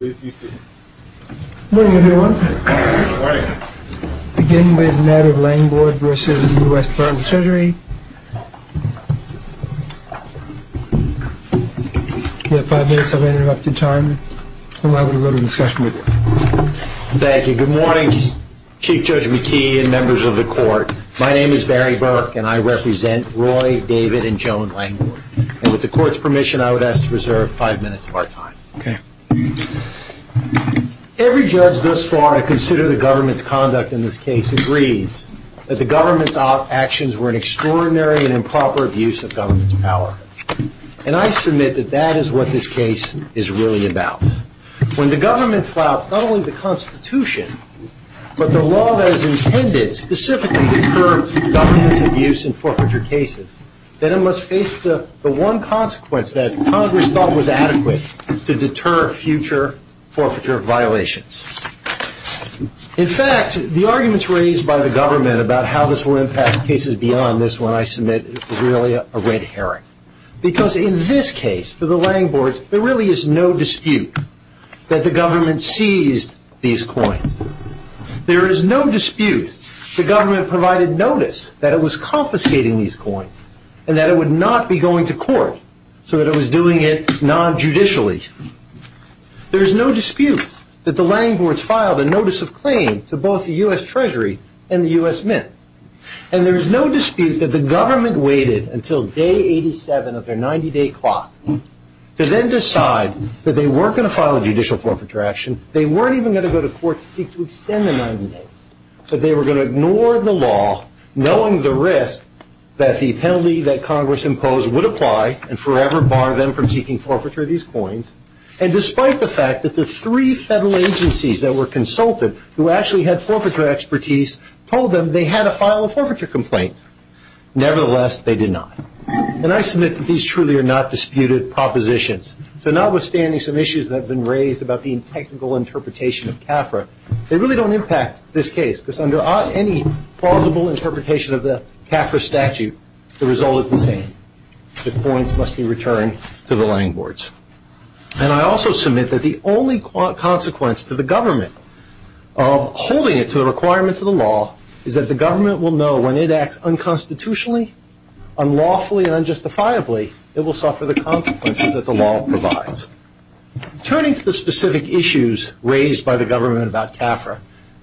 Good morning everyone. I would like to begin with the matter of Langbord v. US Dept. Treasury. Thank you. Good morning Chief Judge McKee and members of the court. My name is Barry Burke and I represent Roy, David, and Joan Langbord. With the court's permission I would ask to reserve five minutes of our time. Every judge thus far, I consider the government's conduct in this case, agrees that the government's actions were an extraordinary and improper abuse of government's power. And I submit that that is what this case is really about. When the government flouts not only the Constitution, but the law that is intended specifically to curb government's abuse in forfeiture cases, then it must face the one consequence that Congress thought was adequate to deter future forfeiture violations. In fact, the arguments raised by the government about how this will impact cases beyond this one I submit is really a red herring. Because in this case, for the Langbords, there really is no dispute that the government seized these coins. There is no dispute that the government provided notice that it was confiscating these coins and that it would not be going to court so that it was doing it non-judicially. There is no dispute that the Langbords filed a notice of claim to both the US Treasury and the US Mint. And there is no dispute that the government waited until day 87 of their 90-day clock to then decide that they weren't going to file a judicial forfeiture action, they weren't even going to go to court to seek to extend the 90 days, that they were going to ignore the law knowing the risk that the penalty that Congress imposed would apply and forever bar them from seeking forfeiture of these coins, and despite the fact that the three federal agencies that were consulted who actually had forfeiture expertise told them they had to file a forfeiture complaint. Nevertheless, they did not. And I submit that these truly are not disputed propositions. So notwithstanding some issues that have been raised about the technical interpretation of CAFRA, they really don't impact this case because under any plausible interpretation of the CAFRA statute, the result is the same. The coins must be returned to the Langbords. And I also submit that the only consequence to the government of holding it to the requirements of the law is that the government will know when it acts unconstitutionally, unlawfully, and unjustifiably, it will suffer the consequences that the law provides. Turning to the specific issues raised by the government about CAFRA,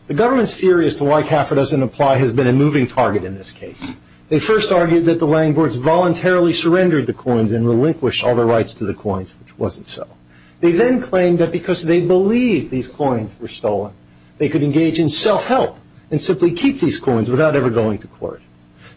the government's theory as to why CAFRA doesn't apply has been a moving target in this case. They first argued that the Langbords voluntarily surrendered the coins and relinquished all their rights to the coins, which wasn't so. They then claimed that because they believed these coins were stolen, they could engage in self-help and simply keep these coins without ever going to court.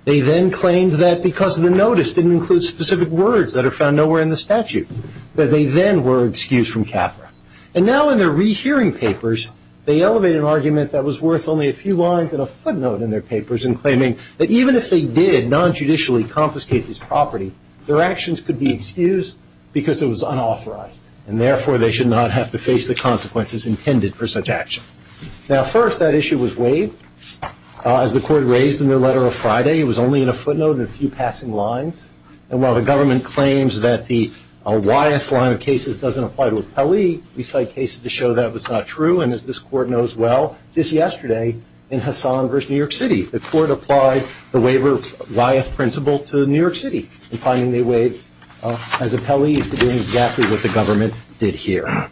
They then claimed that because the notice didn't include specific words that are found nowhere in the statute, that they then were excused from CAFRA. And now in their rehearing papers, they elevate an argument that was worth only a few lines and a footnote in their papers in claiming that even if they did non-judicially confiscate this property, their actions could be excused because it was unauthorized, and therefore they should not have to face the consequences intended for such action. Now, first, that issue was waived. As the court raised in their letter on Friday, it was only in a footnote and a few passing lines. And while the government claims that the Wyeth line of cases doesn't apply to Appellee, we cite cases to show that it was not true. And as this court knows well, just yesterday in Hassan v. New York City, the court applied the waiver of Wyeth principle to New York City, and finding they waived as Appellee is doing exactly what the government did here.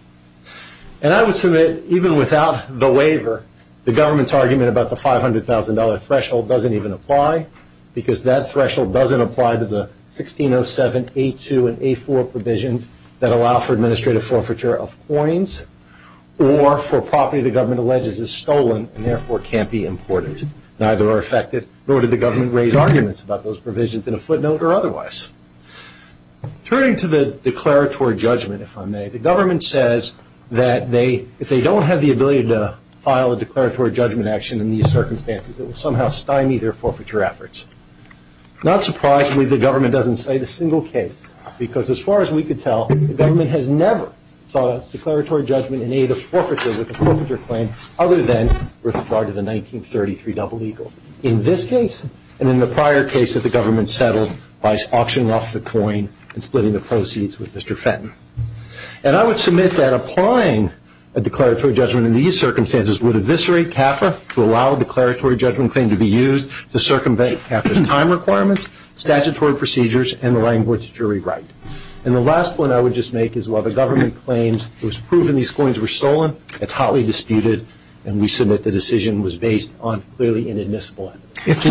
And I would submit even without the waiver, the government's argument about the $500,000 threshold doesn't even apply because that threshold doesn't apply to the 1607A2 and A4 provisions that allow for administrative forfeiture of coins or for property the government alleges is stolen and therefore can't be imported. Neither are affected, nor did the government raise arguments about those provisions in a footnote or otherwise. Turning to the declaratory judgment, if I may, the government says that if they don't have the ability to file a declaratory judgment action in these circumstances, it will somehow stymie their forfeiture efforts. Not surprisingly, the government doesn't cite a single case because as far as we could tell, the government has never filed a declaratory judgment in aid of forfeiture with a forfeiture claim other than with regard to the 1933 double legal. In this case and in the prior case that the government settled by auctioning off the coin and splitting the proceeds with Mr. Fenton. And I would submit that applying a declaratory judgment in these circumstances would eviscerate CAFRA to allow a declaratory judgment claim to be used to circumvent CAFRA's time requirements, statutory procedures, and the language jury right. And the last point I would just make is while the government claims it was proven these coins were stolen, it's hotly disputed and we submit the decision was based on clearly inadmissible evidence.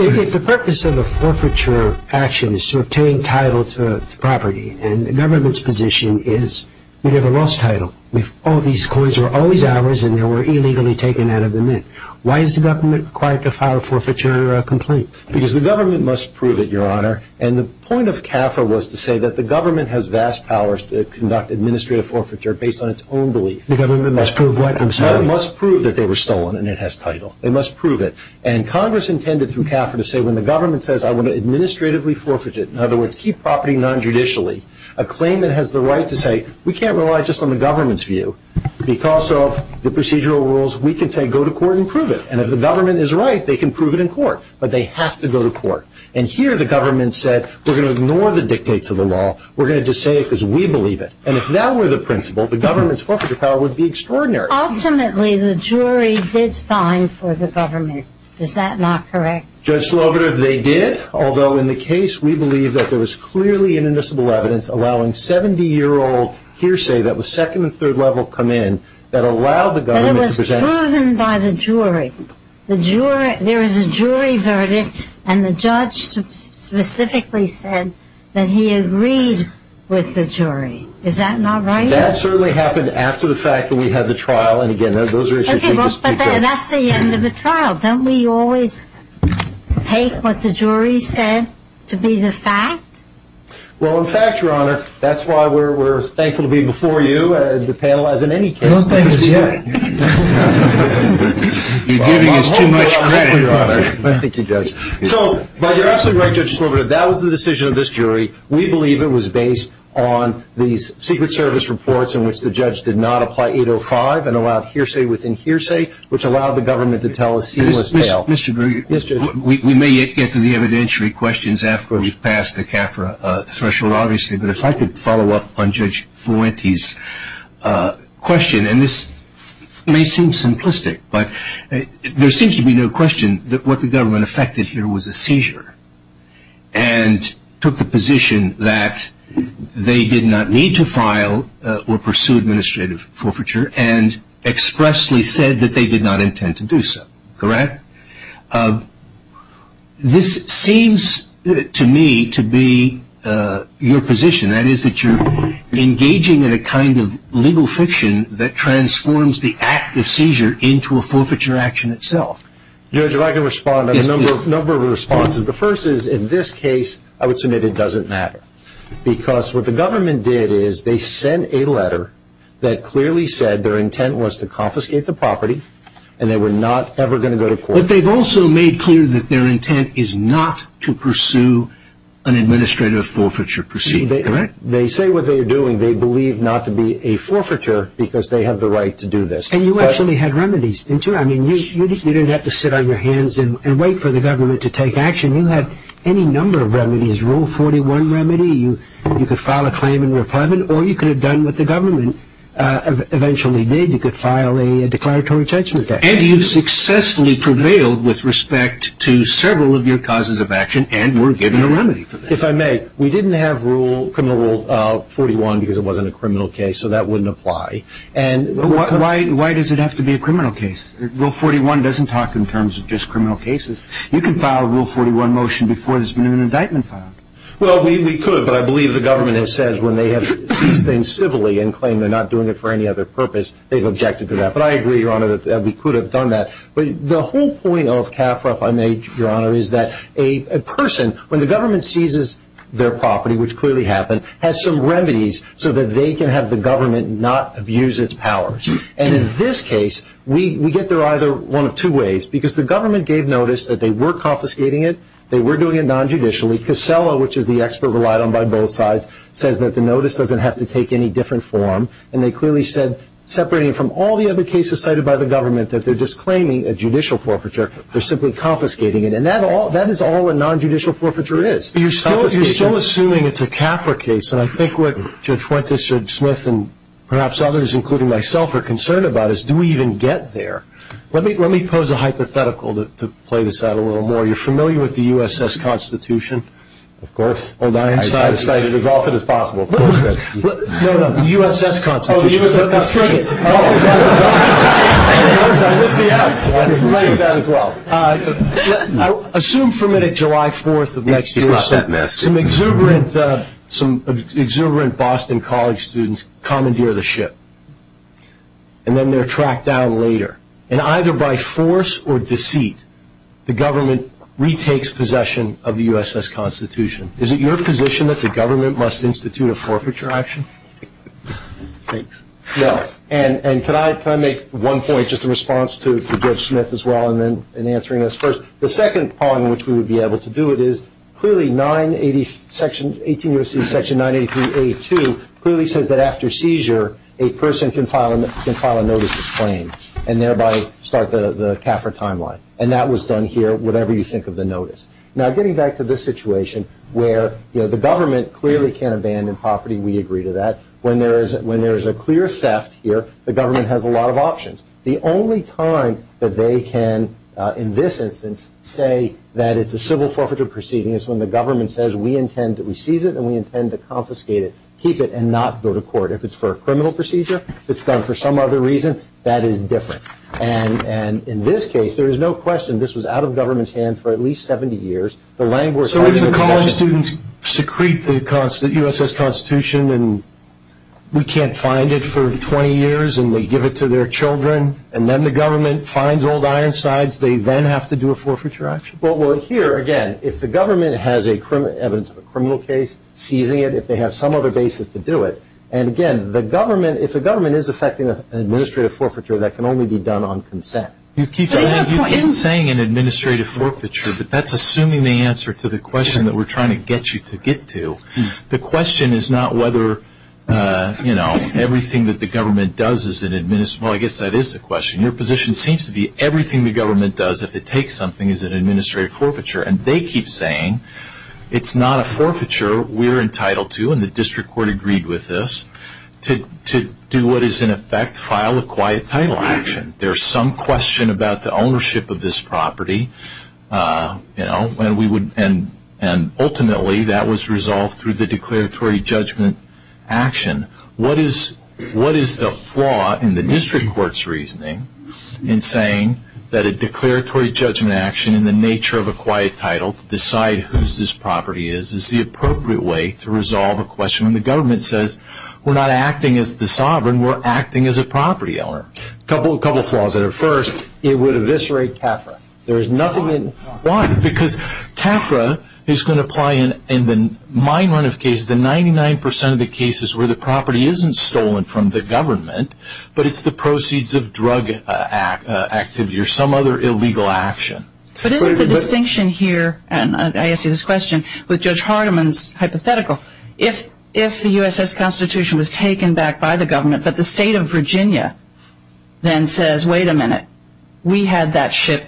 If the purpose of a forfeiture action is to obtain title to the property and the government's position is you'd have a lost title if all these coins were always ours and they were illegally taken out of the mint, why is the government required to file a forfeiture complaint? Because the government must prove it, Your Honor. And the point of CAFRA was to say that the government has vast powers to conduct administrative forfeiture based on its own belief. The government must prove what? I'm sorry. They must prove that they were stolen and it has title. They must prove it. And Congress intended through CAFRA to say when the government says I want to administratively forfeit it, in other words, keep property non-judicially, a claim that has the right to say we can't rely just on the government's view because of the procedural rules, we can say go to court and prove it. And if the government is right, they can prove it in court. But they have to go to court. And here the government said we're going to ignore the dictates of the law. We're going to just say it because we believe it. And if that were the principle, the government's forfeiture power would be extraordinary. Ultimately, the jury did fine for the government. Is that not correct? Judge Sloboda, they did, although in the case we believe that there was clearly inadmissible evidence allowing 70-year-old hearsay that was second and third level come in that allowed the government to present. But it was proven by the jury. There is a jury verdict, and the judge specifically said that he agreed with the jury. Is that not right? That certainly happened after the fact that we had the trial. And, again, those are issues we can speak to. Okay, well, but that's the end of the trial. Don't we always take what the jury said to be the fact? Well, in fact, Your Honor, that's why we're thankful to be before you, the panel, as in any case. I don't think it's right. You're giving us too much credit. Thank you, Judge. So, but you're absolutely right, Judge Sloboda. That was the decision of this jury. We believe it was based on these Secret Service reports in which the judge did not apply 805 and allowed hearsay within hearsay, which allowed the government to tell a seamless tale. Mr. Greer. Yes, Judge. We may yet get to the evidentiary questions after we've passed the CAFRA threshold, obviously, but if I could follow up on Judge Fuente's question, and this may seem simplistic, but there seems to be no question that what the government affected here was a seizure and took the position that they did not need to file or pursue administrative forfeiture and expressly said that they did not intend to do so, correct? This seems to me to be your position, that is, that you're engaging in a kind of legal fiction that transforms the act of seizure into a forfeiture action itself. Yes, please. There are a number of responses. The first is, in this case, I would submit it doesn't matter, because what the government did is they sent a letter that clearly said their intent was to confiscate the property and they were not ever going to go to court. But they've also made clear that their intent is not to pursue an administrative forfeiture proceeding, correct? They say what they are doing. They believe not to be a forfeiture because they have the right to do this. And you actually had remedies, didn't you? I mean, you didn't have to sit on your hands and wait for the government to take action. You had any number of remedies. Rule 41 remedy, you could file a claim and reprimand, or you could have done what the government eventually did. You could file a declaratory judgment. And you've successfully prevailed with respect to several of your causes of action, and we're giving a remedy for that. If I may, we didn't have criminal rule 41 because it wasn't a criminal case, so that wouldn't apply. Why does it have to be a criminal case? Rule 41 doesn't talk in terms of just criminal cases. You can file a rule 41 motion before there's been an indictment filed. Well, we could, but I believe the government has said when they have seized things civilly and claimed they're not doing it for any other purpose, they've objected to that. But I agree, Your Honor, that we could have done that. But the whole point of CAFRA, if I may, Your Honor, is that a person, when the government seizes their property, which clearly happened, has some remedies so that they can have the government not abuse its powers. And in this case, we get there either one of two ways, because the government gave notice that they were confiscating it, they were doing it non-judicially. Casella, which is the expert relied on by both sides, says that the notice doesn't have to take any different form, and they clearly said, separating from all the other cases cited by the government, that they're disclaiming a judicial forfeiture, they're simply confiscating it. And that is all a non-judicial forfeiture is. You're still assuming it's a CAFRA case, and I think what Judge Fuentes, Judge Smith, and perhaps others, including myself, are concerned about is do we even get there? Let me pose a hypothetical to play this out a little more. You're familiar with the U.S.S. Constitution? Of course. I try to cite it as often as possible. No, no, the U.S.S. Constitution. Oh, the U.S.S. Constitution. I missed the S. I didn't like that as well. Assume for a minute July 4th of next year, some exuberant Boston College students commandeer the ship, and then they're tracked down later, and either by force or deceit the government retakes possession of the U.S.S. Constitution. Is it your position that the government must institute a forfeiture action? Thanks. No. And can I make one point just in response to Judge Smith as well and answering this first? The second point in which we would be able to do it is, clearly Section 983A2 clearly says that after seizure a person can file a notices claim and thereby start the CAFRA timeline, and that was done here, whatever you think of the notice. Now getting back to this situation where the government clearly can't abandon property, we agree to that. When there is a clear theft here, the government has a lot of options. The only time that they can, in this instance, say that it's a civil forfeiture proceeding is when the government says we intend to seize it and we intend to confiscate it, keep it, and not go to court. If it's for a criminal procedure, it's done for some other reason, that is different. And in this case there is no question this was out of government's hands for at least 70 years. So if the college students secrete the USS Constitution and we can't find it for 20 years and they give it to their children and then the government finds old ironsides, they then have to do a forfeiture action? Well, here again, if the government has evidence of a criminal case, seizing it if they have some other basis to do it. And again, if the government is effecting an administrative forfeiture, that can only be done on consent. You keep saying an administrative forfeiture, but that's assuming the answer to the question that we're trying to get you to get to. The question is not whether, you know, everything that the government does is an administrative, well, I guess that is the question. Your position seems to be everything the government does, if it takes something, is an administrative forfeiture. And they keep saying it's not a forfeiture we're entitled to, and the district court agreed with this, to do what is in effect file a quiet title action. There is some question about the ownership of this property, you know, and ultimately that was resolved through the declaratory judgment action. What is the flaw in the district court's reasoning in saying that a declaratory judgment action in the nature of a quiet title to decide whose this property is, is the appropriate way to resolve a question when the government says, we're not acting as the sovereign, we're acting as a property owner. A couple of flaws there. First, it would eviscerate CAFRA. Why? Because CAFRA is going to apply in the mine run of cases, the 99% of the cases where the property isn't stolen from the government, but it's the proceeds of drug activity or some other illegal action. But isn't the distinction here, and I ask you this question, with Judge Hardiman's hypothetical, if the USS Constitution was taken back by the government, but the state of Virginia then says, wait a minute, we had that ship,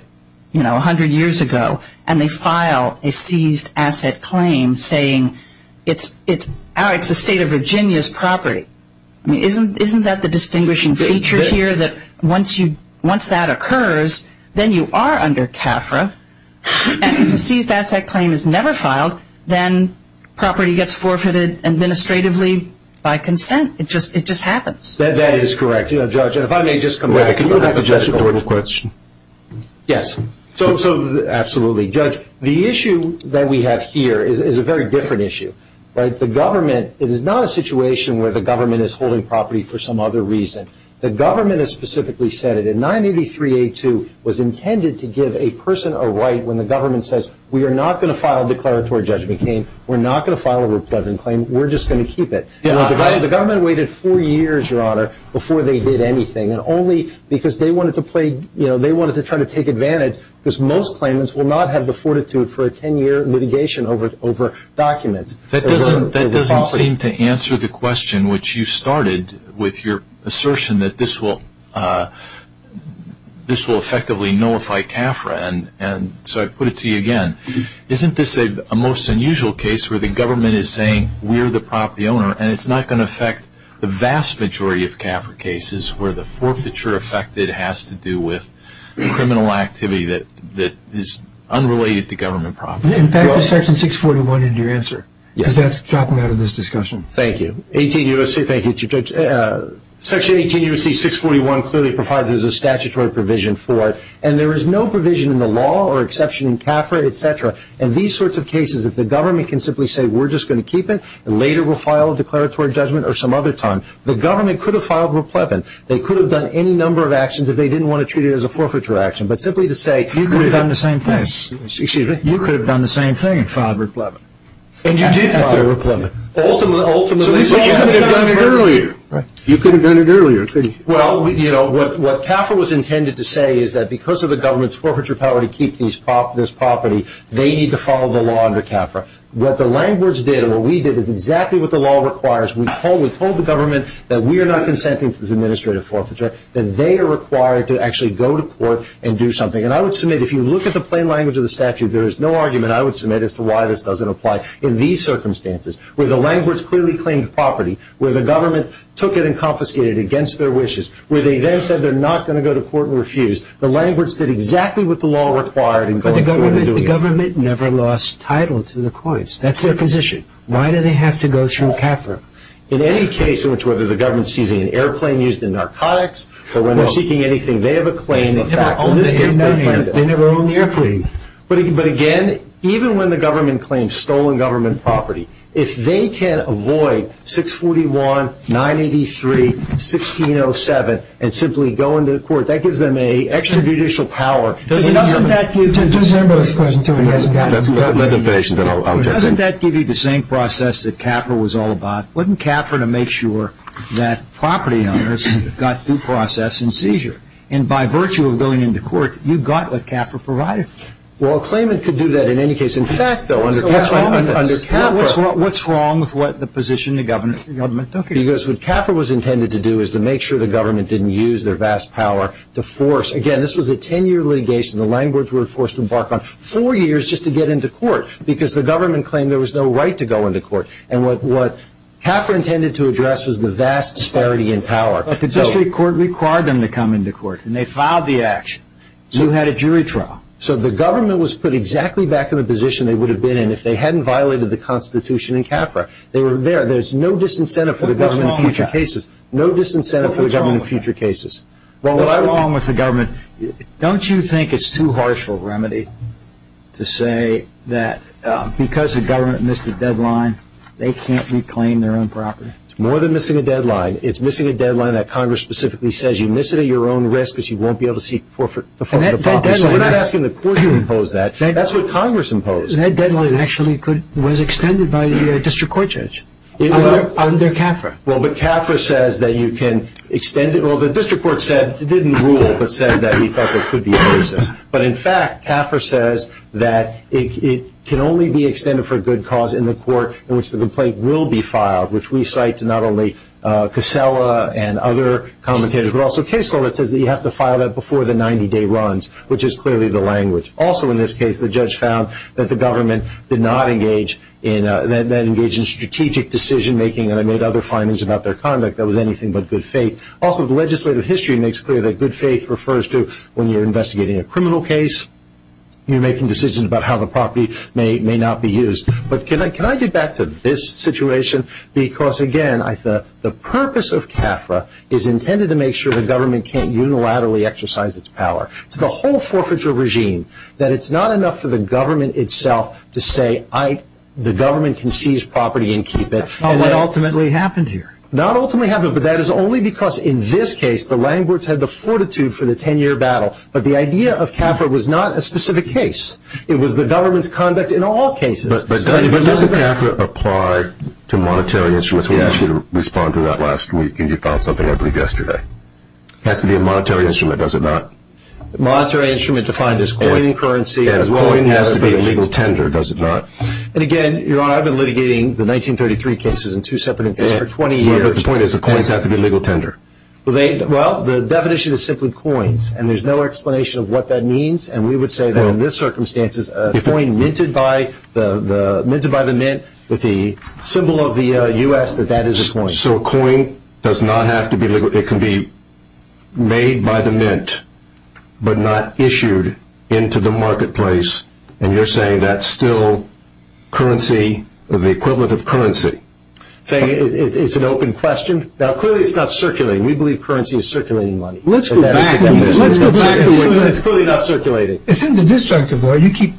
you know, 100 years ago, and they file a seized asset claim saying it's the state of Virginia's property. I mean, isn't that the distinguishing feature here that once that occurs, then you are under CAFRA, and if a seized asset claim is never filed, then property gets forfeited administratively by consent. It just happens. That is correct. Judge, if I may just come back to that hypothetical. Can you go back to Jessica's question? Yes. Absolutely. Judge, the issue that we have here is a very different issue. The government is not a situation where the government is holding property for some other reason. The government has specifically said it. And 983A2 was intended to give a person a right when the government says, we are not going to file a declaratory judgment claim, we're not going to file a repledging claim, we're just going to keep it. The government waited four years, Your Honor, before they did anything, and only because they wanted to play, you know, they wanted to try to take advantage, because most claimants will not have the fortitude for a 10-year litigation over documents. That doesn't seem to answer the question, which you started with your assertion that this will effectively nullify CAFRA. And so I put it to you again. Isn't this a most unusual case where the government is saying, we're the property owner, and it's not going to affect the vast majority of CAFRA cases where the forfeiture affected has to do with criminal activity that is unrelated to government property? In fact, there's Section 641 in your answer. Yes. Because that's dropping out of this discussion. Thank you. 18 U.S.C. Thank you, Chief Judge. Section 18 U.S.C. 641 clearly provides there's a statutory provision for it, and there is no provision in the law or exception in CAFRA, et cetera, in these sorts of cases if the government can simply say, we're just going to keep it, and later we'll file a declaratory judgment or some other time. The government could have filed replevant. They could have done any number of actions if they didn't want to treat it as a forfeiture action. But simply to say, you could have done the same thing. You could have done the same thing and filed replevant. And you did file replevant. Ultimately, you could have done it earlier. You could have done it earlier. Well, you know, what CAFRA was intended to say is that because of the government's forfeiture power to keep this property, they need to follow the law under CAFRA. What the language did and what we did is exactly what the law requires. We told the government that we are not consenting to this administrative forfeiture, that they are required to actually go to court and do something. And I would submit, if you look at the plain language of the statute, there is no argument I would submit as to why this doesn't apply in these circumstances where the language clearly claimed property, where the government took it and confiscated it against their wishes, where they then said they're not going to go to court and refuse. The language did exactly what the law required in going forward and doing it. But the government never lost title to the coins. That's their position. Why do they have to go through CAFRA? In any case in which whether the government sees an airplane used in narcotics or when they're seeking anything, they have a claim. They never owned the airplane. But again, even when the government claims stolen government property, if they can avoid 641, 983, 1607 and simply go into court, that gives them an extrajudicial power. Doesn't that give you the same process that CAFRA was all about? Wouldn't CAFRA make sure that property owners got due process and seizure? And by virtue of going into court, you got what CAFRA provided for you. Well, a claimant could do that in any case. In fact, though, under CAFRA. What's wrong with what the position the government took? Because what CAFRA was intended to do is to make sure the government didn't use their vast power to force. Again, this was a ten-year litigation. The language we were forced to embark on four years just to get into court because the government claimed there was no right to go into court. And what CAFRA intended to address was the vast disparity in power. But the district court required them to come into court, and they filed the action. You had a jury trial. So the government was put exactly back in the position they would have been in if they hadn't violated the Constitution in CAFRA. They were there. There's no disincentive for the government in future cases. What's wrong with that? No disincentive for the government in future cases. What's wrong with that? What's wrong with the government? Don't you think it's too harsh of a remedy to say that because the government missed a deadline, they can't reclaim their own property? It's more than missing a deadline. It's missing a deadline that Congress specifically says you miss it at your own risk because you won't be able to seek forfeit of property. So we're not asking the court to impose that. That's what Congress imposed. That deadline actually was extended by the district court judge under CAFRA. Well, but CAFRA says that you can extend it. Well, the district court said, didn't rule, but said that we thought there could be a basis. But in fact, CAFRA says that it can only be extended for a good cause in the court in which the complaint will be filed, which we cite to not only Casella and other commentators, but also Casella that says that you have to file that before the 90-day runs, which is clearly the language. Also in this case, the judge found that the government did not engage in strategic decision-making and made other findings about their conduct that was anything but good faith. Also, the legislative history makes clear that good faith refers to when you're investigating a criminal case, you're making decisions about how the property may or may not be used. But can I get back to this situation? Because, again, the purpose of CAFRA is intended to make sure the government can't unilaterally exercise its power. It's the whole forfeiture regime that it's not enough for the government itself to say, the government can seize property and keep it. Not what ultimately happened here. Not ultimately happened, but that is only because in this case the landlords had the fortitude for the 10-year battle. But the idea of CAFRA was not a specific case. It was the government's conduct in all cases. But doesn't CAFRA apply to monetary instruments? We asked you to respond to that last week, and you found something, I believe, yesterday. It has to be a monetary instrument, does it not? A monetary instrument defined as coin and currency. And a coin has to be a legal tender, does it not? And, again, Your Honor, I've been litigating the 1933 cases in two separate instances for 20 years. But the point is the coins have to be legal tender. Well, the definition is simply coins, and there's no explanation of what that means. And we would say that in this circumstance, a coin minted by the mint with the symbol of the U.S., that that is a coin. So a coin does not have to be legal. It can be made by the mint, but not issued into the marketplace. And you're saying that's still currency, the equivalent of currency. It's an open question. Now, clearly it's not circulating. We believe currency is circulating money. Let's go back. It's clearly not circulating. It's in the destructive law. You keep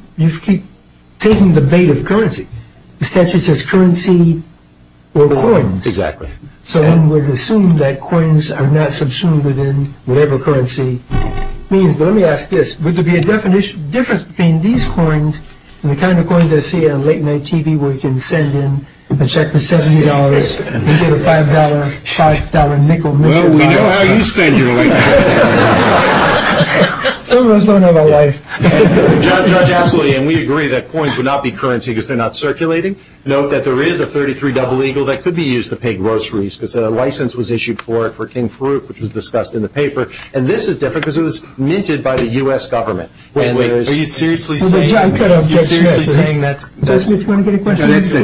taking the bait of currency. The statute says currency or coins. Exactly. So one would assume that coins are not subsumed within whatever currency means. But let me ask this. Would there be a difference between these coins and the kind of coins I see on late-night TV where you can send in a check for $70 and get a $5 nickel minted by a doctor? Well, we know how you spend your late-night TV. Some of us don't know about life. Judge, absolutely. And we agree that coins would not be currency because they're not circulating. Note that there is a 33 double eagle that could be used to pay groceries because a license was issued for it for King Farouk, which was discussed in the paper. And this is different because it was minted by the U.S. government. Wait, wait. Are you seriously saying that's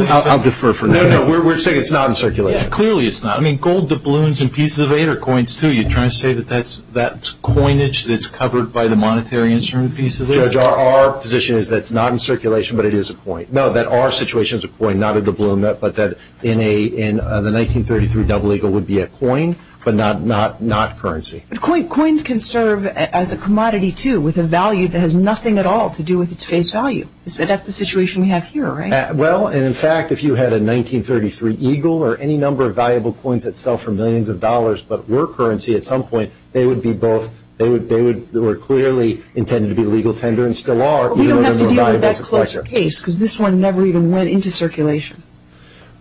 – I'll defer for now. No, no. We're saying it's not in circulation. Clearly it's not. I mean, gold doubloons and pieces of eight are coins, too. Are you trying to say that that's coinage that's covered by the monetary instrument pieces? Judge, our position is that it's not in circulation but it is a coin. No, that our situation is a coin, not a doubloon, but that the 1933 double eagle would be a coin but not currency. But coins can serve as a commodity, too, with a value that has nothing at all to do with its face value. That's the situation we have here, right? Well, in fact, if you had a 1933 eagle or any number of valuable coins that sell for millions of dollars but were currency at some point, they would be both – they were clearly intended to be legal tender and still are. But we don't have to deal with that closer case because this one never even went into circulation.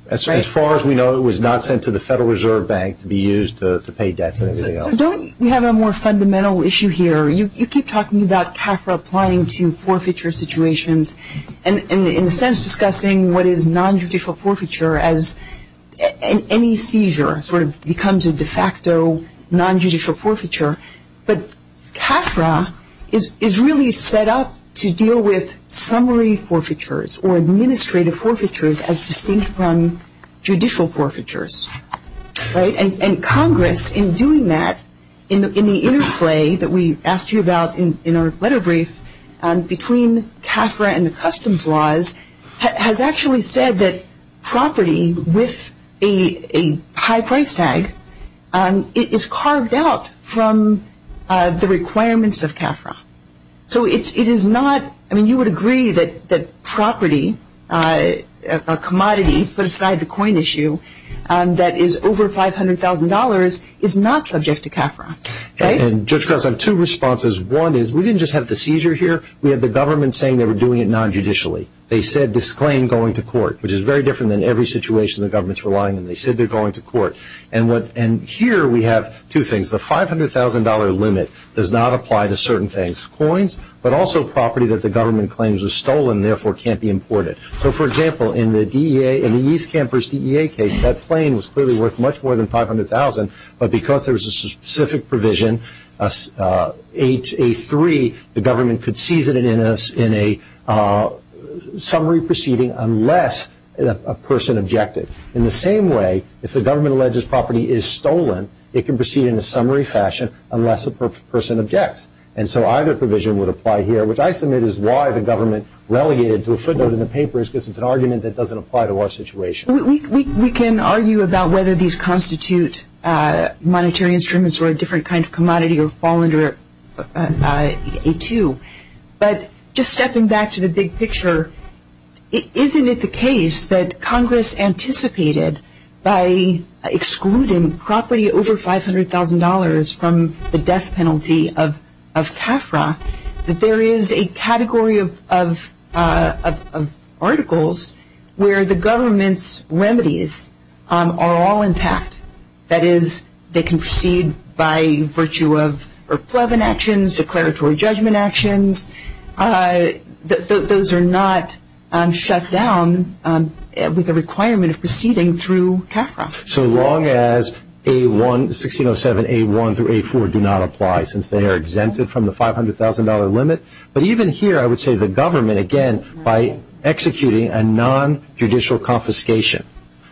As far as we know, it was not sent to the Federal Reserve Bank to be used to pay debts. So don't – we have a more fundamental issue here. You keep talking about CAFRA applying to forfeiture situations and in a sense discussing what is nonjudicial forfeiture as any seizure sort of becomes a de facto nonjudicial forfeiture. But CAFRA is really set up to deal with summary forfeitures or administrative forfeitures as distinct from judicial forfeitures, right? And Congress, in doing that, in the interplay that we asked you about in our letter brief between CAFRA and the customs laws, has actually said that property with a high price tag is carved out from the requirements of CAFRA. So it is not – I mean, you would agree that property, a commodity, put aside the coin issue, that is over $500,000 is not subject to CAFRA, right? And Judge Cross, I have two responses. One is we didn't just have the seizure here. We had the government saying they were doing it nonjudicially. They said disclaim going to court, which is very different than every situation the government's relying on. They said they're going to court. And here we have two things. The $500,000 limit does not apply to certain things. Coins, but also property that the government claims was stolen and therefore can't be imported. So, for example, in the East Campus DEA case, that plane was clearly worth much more than $500,000, but because there was a specific provision, A3, the government could seize it in a summary proceeding unless a person objected. In the same way, if the government alleges property is stolen, it can proceed in a summary fashion unless a person objects. And so either provision would apply here, which I submit is why the government relegated to a footnote in the papers because it's an argument that doesn't apply to our situation. We can argue about whether these constitute monetary instruments or a different kind of commodity or fall under A2, but just stepping back to the big picture, isn't it the case that Congress anticipated by excluding property over $500,000 from the death penalty of CAFRA that there is a category of articles where the government's remedies are all intact? That is, they can proceed by virtue of irreflevent actions, declaratory judgment actions. Those are not shut down with the requirement of proceeding through CAFRA. So long as 1607A1 through A4 do not apply, since they are exempted from the $500,000 limit. But even here, I would say the government, again, by executing a nonjudicial confiscation.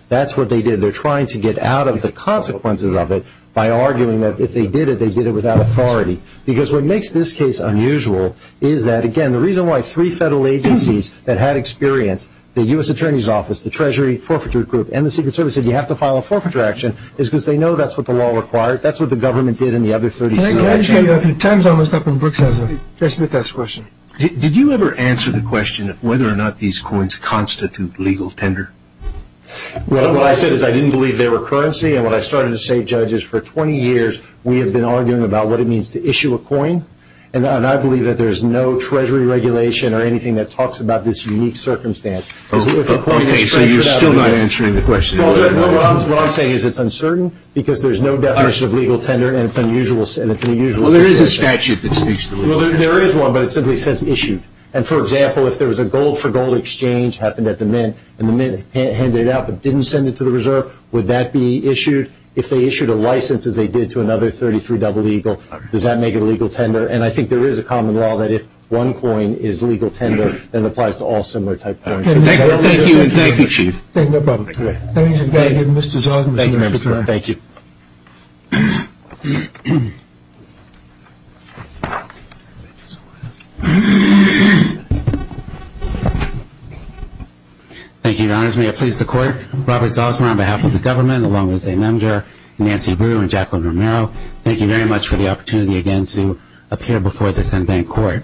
That's what they did. They're trying to get out of the consequences of it by arguing that if they did it, they did it without authority. Because what makes this case unusual is that, again, the reason why three federal agencies that had experience, the U.S. Attorney's Office, the Treasury Forfeiture Group, and the Secret Service, said you have to file a forfeiture action is because they know that's what the law requires. That's what the government did in the other 36 actions. Time's almost up and Brooks has a question. Did you ever answer the question of whether or not these coins constitute legal tender? Well, what I said is I didn't believe they were currency, and when I started to save judges for 20 years, we have been arguing about what it means to issue a coin, and I believe that there's no Treasury regulation or anything that talks about this unique circumstance. Okay, so you're still not answering the question. What I'm saying is it's uncertain because there's no definition of legal tender, and it's an unusual situation. Well, there is a statute that speaks to it. Well, there is one, but it simply says issued. And, for example, if there was a gold-for-gold exchange happened at the Mint, and the Mint handed it out but didn't send it to the Reserve, would that be issued? If they issued a license, as they did to another 33 double legal, does that make it legal tender? And I think there is a common law that if one coin is legal tender, then it applies to all similar type coins. Thank you, and thank you, Chief. No problem. Thank you, Mr. Zosmar. Thank you, members. Thank you. Thank you, Your Honors. May it please the Court, Robert Zosmar on behalf of the government, along with Zain Amjad, Nancy Brewer, and Jacqueline Romero, thank you very much for the opportunity again to appear before this unbanked Court.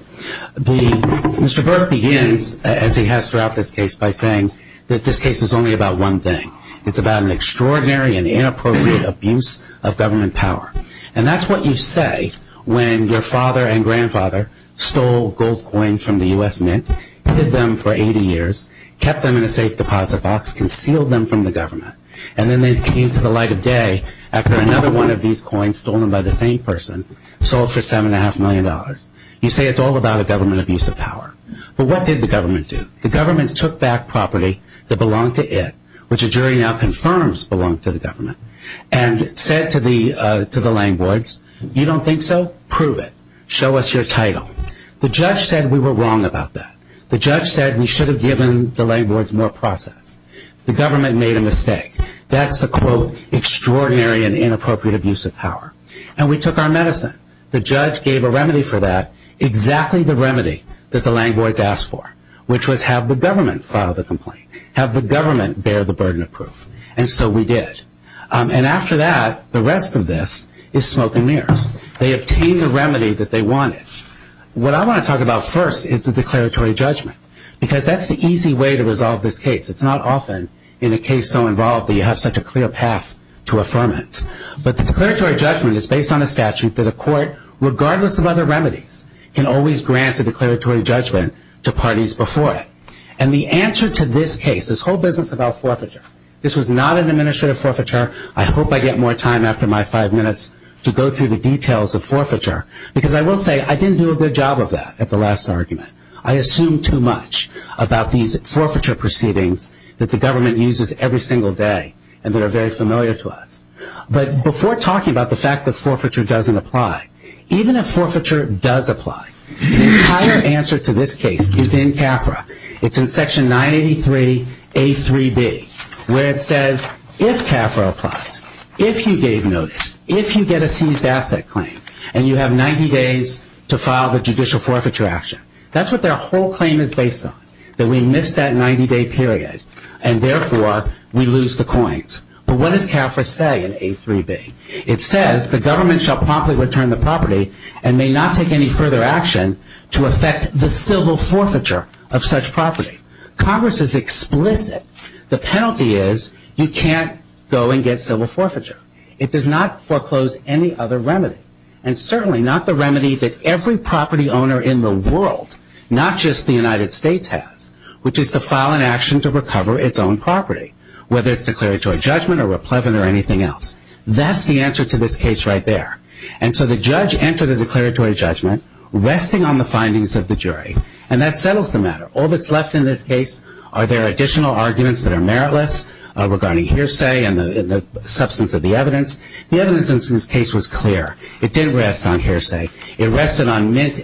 Mr. Burke begins, as he has throughout this case, by saying that this case is only about one thing. It's about an extraordinary and inappropriate abuse of government power. And that's what you say when your father and grandfather stole gold coins from the U.S. Mint, hid them for 80 years, kept them in a safe deposit box, concealed them from the government, and then they came to the light of day after another one of these coins stolen by the same person sold for $7.5 million. You say it's all about a government abuse of power. But what did the government do? The government took back property that belonged to it, which the jury now confirms belonged to the government, and said to the landlords, you don't think so? Prove it. Show us your title. The judge said we were wrong about that. The judge said we should have given the landlords more process. The government made a mistake. That's the, quote, extraordinary and inappropriate abuse of power. And we took our medicine. The judge gave a remedy for that, exactly the remedy that the landlords asked for, which was have the government file the complaint, have the government bear the burden of proof. And so we did. And after that, the rest of this is smoke and mirrors. They obtained the remedy that they wanted. What I want to talk about first is the declaratory judgment, because that's the easy way to resolve this case. It's not often in a case so involved that you have such a clear path to affirmance. But the declaratory judgment is based on a statute that a court, regardless of other remedies, can always grant a declaratory judgment to parties before it. And the answer to this case, this whole business about forfeiture, this was not an administrative forfeiture. I hope I get more time after my five minutes to go through the details of forfeiture, because I will say I didn't do a good job of that at the last argument. I assumed too much about these forfeiture proceedings that the government uses every single day and that are very familiar to us. But before talking about the fact that forfeiture doesn't apply, even if forfeiture does apply, the entire answer to this case is in CAFRA. It's in section 983A3B, where it says if CAFRA applies, if you gave notice, if you get a seized asset claim, and you have 90 days to file the judicial forfeiture action. That's what their whole claim is based on, that we missed that 90-day period, and therefore we lose the coins. But what does CAFRA say in A3B? It says the government shall promptly return the property and may not take any further action to affect the civil forfeiture of such property. Congress is explicit. The penalty is you can't go and get civil forfeiture. It does not foreclose any other remedy, and certainly not the remedy that every property owner in the world, not just the United States has, which is to file an action to recover its own property, whether it's declaratory judgment or replevant or anything else. That's the answer to this case right there. And so the judge entered the declaratory judgment, resting on the findings of the jury, and that settles the matter. All that's left in this case are their additional arguments that are meritless regarding hearsay and the substance of the evidence. The evidence in this case was clear. It didn't rest on hearsay. It rested on mint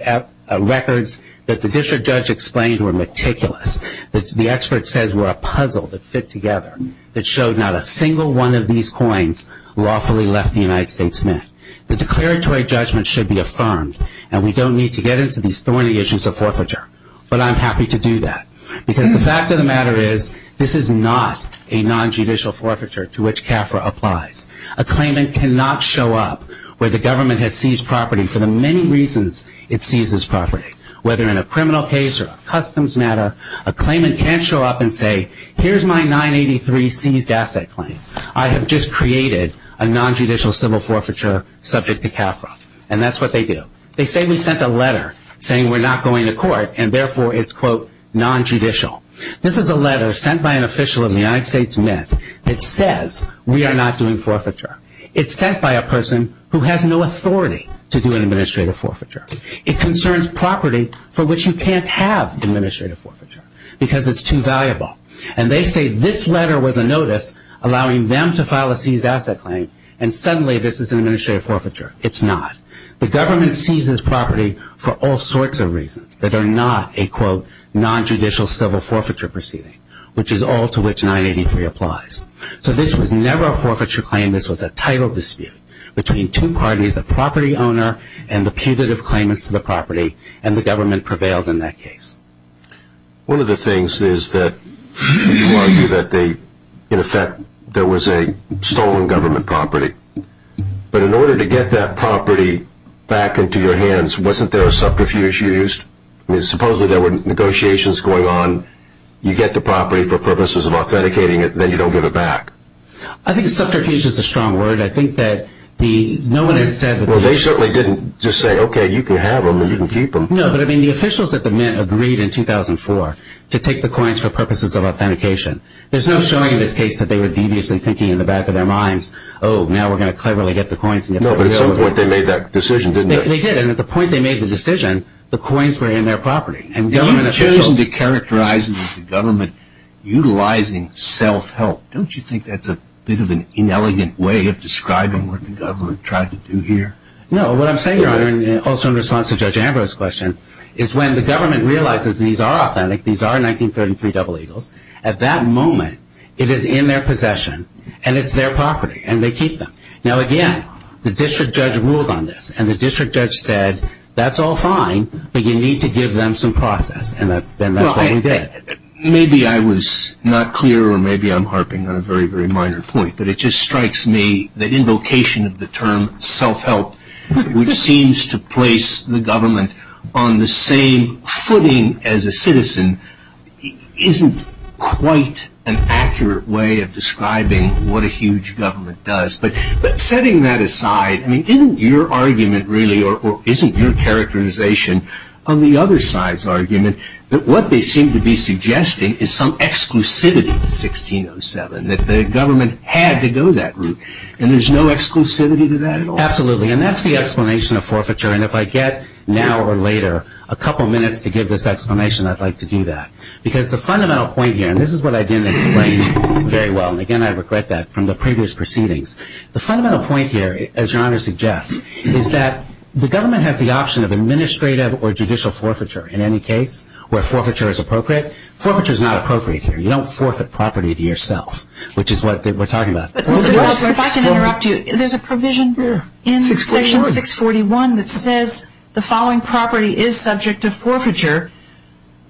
records that the district judge explained were meticulous, that the experts said were a puzzle that fit together, that showed not a single one of these coins lawfully left the United States mint. The declaratory judgment should be affirmed, and we don't need to get into these thorny issues of forfeiture, but I'm happy to do that because the fact of the matter is this is not a nonjudicial forfeiture to which CAFRA applies. A claimant cannot show up where the government has seized property for the many reasons it seizes property, whether in a criminal case or a customs matter. A claimant can't show up and say, here's my 983 seized asset claim. I have just created a nonjudicial civil forfeiture subject to CAFRA, and that's what they do. They say we sent a letter saying we're not going to court, and therefore it's, quote, nonjudicial. This is a letter sent by an official of the United States mint that says we are not doing forfeiture. It's sent by a person who has no authority to do an administrative forfeiture. It concerns property for which you can't have administrative forfeiture because it's too valuable, and they say this letter was a notice allowing them to file a seized asset claim, and suddenly this is an administrative forfeiture. It's not. The government seizes property for all sorts of reasons that are not a, quote, nonjudicial civil forfeiture proceeding, which is all to which 983 applies. So this was never a forfeiture claim. This was a title dispute between two parties, the property owner and the putative claimants to the property, and the government prevailed in that case. One of the things is that people argue that they, in effect, there was a stolen government property, but in order to get that property back into your hands, wasn't there a subterfuge used? Supposedly there were negotiations going on. You get the property for purposes of authenticating it, then you don't give it back. I think subterfuge is a strong word. Well, they certainly didn't just say, okay, you can have them and you can keep them. No, but, I mean, the officials at the Mint agreed in 2004 to take the coins for purposes of authentication. There's no showing in this case that they were deviously thinking in the back of their minds, oh, now we're going to cleverly get the coins. No, but at some point they made that decision, didn't they? They did, and at the point they made the decision, the coins were in their property. You've chosen to characterize it as the government utilizing self-help. Don't you think that's a bit of an inelegant way of describing what the government tried to do here? No, what I'm saying, Your Honor, also in response to Judge Ambrose's question, is when the government realizes these are authentic, these are 1933 double eagles, at that moment it is in their possession and it's their property and they keep them. Now, again, the district judge ruled on this, and the district judge said, that's all fine, but you need to give them some process, and that's what he did. Maybe I was not clear, or maybe I'm harping on a very, very minor point, but it just strikes me that invocation of the term self-help, which seems to place the government on the same footing as a citizen, isn't quite an accurate way of describing what a huge government does. But setting that aside, isn't your argument really, that what they seem to be suggesting is some exclusivity to 1607, that the government had to go that route, and there's no exclusivity to that at all? Absolutely, and that's the explanation of forfeiture, and if I get, now or later, a couple minutes to give this explanation, I'd like to do that. Because the fundamental point here, and this is what I didn't explain very well, and again, I regret that, from the previous proceedings, the fundamental point here, as Your Honor suggests, is that the government has the option of administrative or judicial forfeiture, in any case, where forfeiture is appropriate. Forfeiture is not appropriate here. You don't forfeit property to yourself, which is what we're talking about. Mr. Shultz, if I can interrupt you, there's a provision in section 641 that says the following property is subject to forfeiture,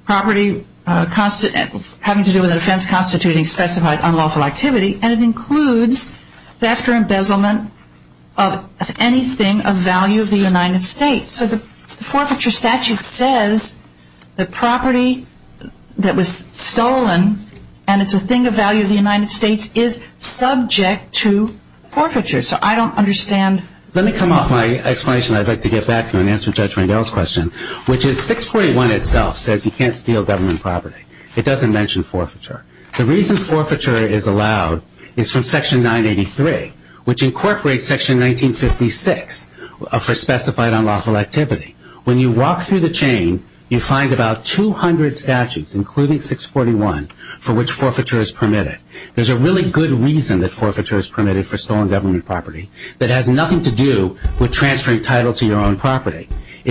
property having to do with an offense constituting specified unlawful activity, and it includes theft or embezzlement of anything of value of the United States. So the forfeiture statute says the property that was stolen, and it's a thing of value of the United States, is subject to forfeiture. So I don't understand. Let me come off my explanation, and I'd like to get back to it and answer Judge Rangel's question, which is 641 itself says you can't steal government property. It doesn't mention forfeiture. The reason forfeiture is allowed is from section 983, which incorporates section 1956 for specified unlawful activity. When you walk through the chain, you find about 200 statutes, including 641, for which forfeiture is permitted. There's a really good reason that forfeiture is permitted for stolen government property that has nothing to do with transferring title to your own property. So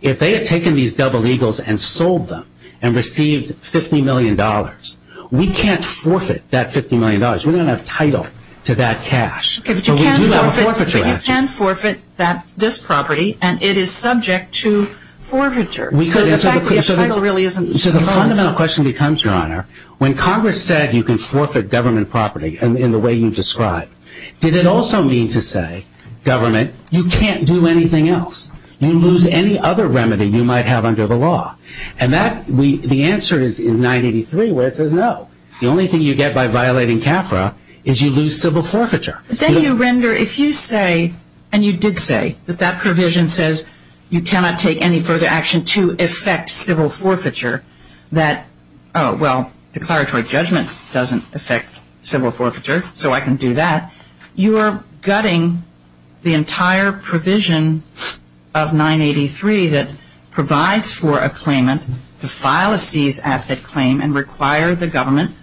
if they had taken these double eagles and sold them and received $50 million, we can't forfeit that $50 million. We don't have title to that cash. But we do have a forfeiture action. But you can forfeit this property, and it is subject to forfeiture. So the fact that the title really isn't involved. So the fundamental question becomes, Your Honor, when Congress said you can forfeit government property in the way you described, did it also mean to say, government, you can't do anything else? You lose any other remedy you might have under the law. And that, the answer is in 983 where it says no. The only thing you get by violating CAFRA is you lose civil forfeiture. Then you render, if you say, and you did say, that that provision says you cannot take any further action to effect civil forfeiture, that, oh, well, declaratory judgment doesn't effect civil forfeiture, so I can do that. You are gutting the entire provision of 983 that provides for a claimant to file a seized asset claim and require the government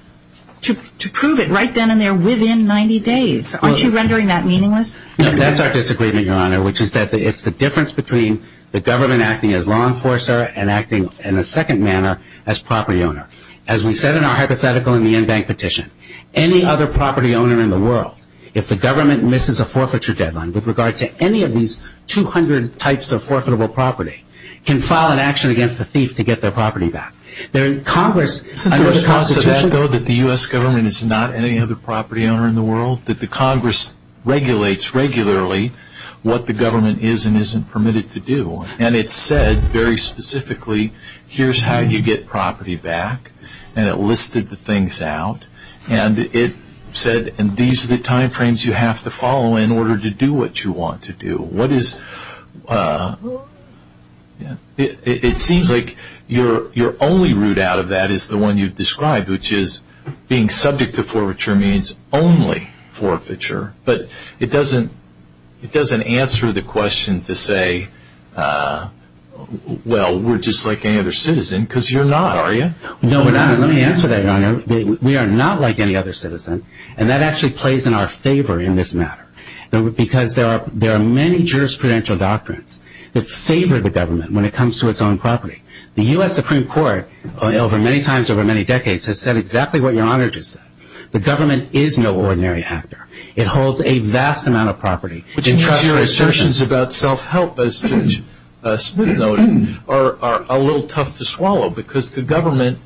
to prove it right then and there within 90 days. Aren't you rendering that meaningless? No, that's our disagreement, Your Honor, which is that it's the difference between the government acting as law enforcer and acting in a second manner as property owner. As we said in our hypothetical in the in-bank petition, any other property owner in the world, if the government misses a forfeiture deadline with regard to any of these 200 types of forfeitable property, can file an action against the thief to get their property back. Isn't there a constitution? Isn't there a constitution though that the U.S. government is not any other property owner in the world, that the Congress regulates regularly what the government is and isn't permitted to do? And it said very specifically, here's how you get property back, and it listed the things out, and it said these are the time frames you have to follow in order to do what you want to do. It seems like your only route out of that is the one you've described, which is being subject to forfeiture means only forfeiture, but it doesn't answer the question to say, well, we're just like any other citizen, because you're not, are you? No, let me answer that, Your Honor. We are not like any other citizen, and that actually plays in our favor in this matter, because there are many jurisprudential doctrines that favor the government when it comes to its own property. The U.S. Supreme Court, many times over many decades, has said exactly what Your Honor just said. The government is no ordinary actor. It holds a vast amount of property. Which means your assertions about self-help, as Judge Smith noted, are a little tough to swallow, because the government